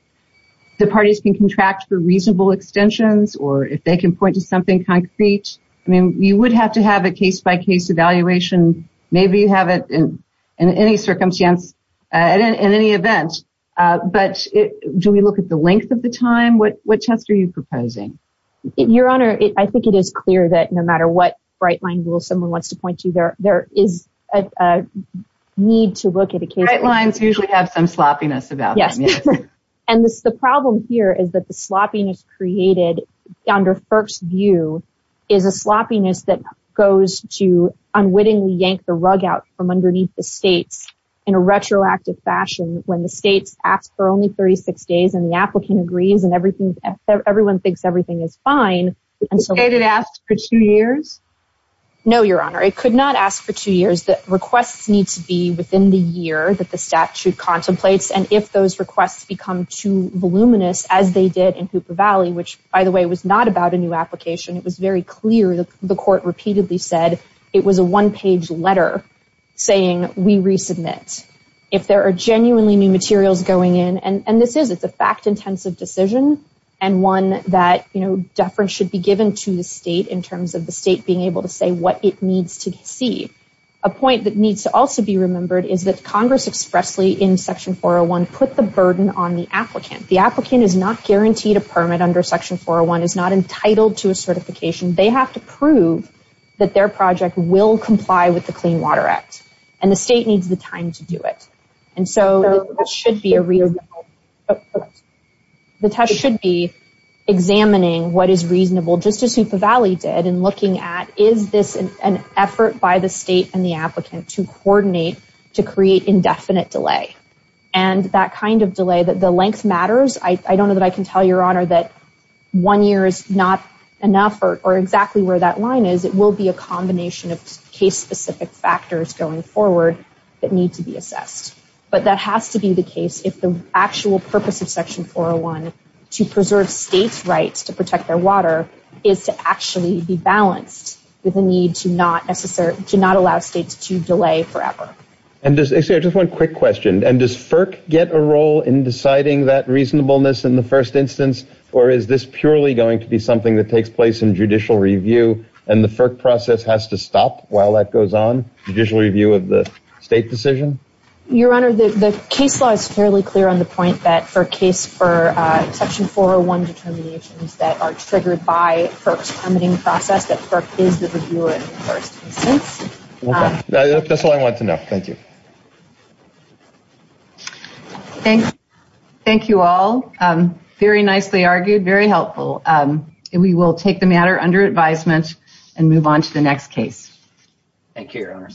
contract for reasonable extensions, or if they can point to something concrete, you would have to have a case-by-case evaluation. Maybe you have it in any circumstance, in any event, but do we look at the length of the time? What test are you proposing? Your Honor, I think it is clear that no matter what bright line someone wants to point to, there is a need to look at a case-by-case. Bright lines usually have some sloppiness about them. And the problem here is that the sloppiness created under FERC's view is a sloppiness that goes to unwittingly yank the rug out from underneath the state in a retroactive fashion when the state asks for only 36 days and the applicant agrees and everyone thinks everything is fine. Is it asked for two years? No, Your Honor. It could not ask for two years. The request needs to be within the year that the statute contemplates. And if those requests become too voluminous, as they did in Hooper Valley, which, by the way, was not about a new application. It was very clear that the court repeatedly said it was a one-page letter saying we resubmit. If there are genuinely new materials going in, and this is a fact-intensive decision, and one that deference should be given to the state in terms of the state being able to say what it needs to see. A point that needs to also be remembered is that Congress expressly in Section 401 put the burden on the applicant. The applicant is not guaranteed a permit under Section 401, is not entitled to a certification. They have to prove that their project will comply with the Clean Water Act. And the state needs the time to do it. And so that should be a real... The test should be examining what is reasonable, just as Hooper Valley did, and looking at is this an effort by the state and the applicant to coordinate to create indefinite delay. And that kind of delay, the length matters. I don't know that I can tell your honor that one year is not enough or exactly where that line is. It will be a combination of case-specific factors going forward that need to be assessed. But that has to be the case if the actual purpose of Section 401 to preserve states' rights to protect their water is to actually be balanced with the need to not allow states to delay forever. And just one quick question. And does FERC get a role in deciding that reasonableness in the first instance? Or is this purely going to be something that takes place in judicial review and the FERC process has to stop while that goes on, the judicial review of the state decision? Your honor, the case law is fairly clear on the point that for a case for Section 401 determinations that are triggered by FERC's funding process, that FERC is the reviewer in the first instance. That's all I wanted to know. Thank you. Thank you all. Very nicely argued, very helpful. We will take the matter under advisement and move on to the next case. Thank you, your honor.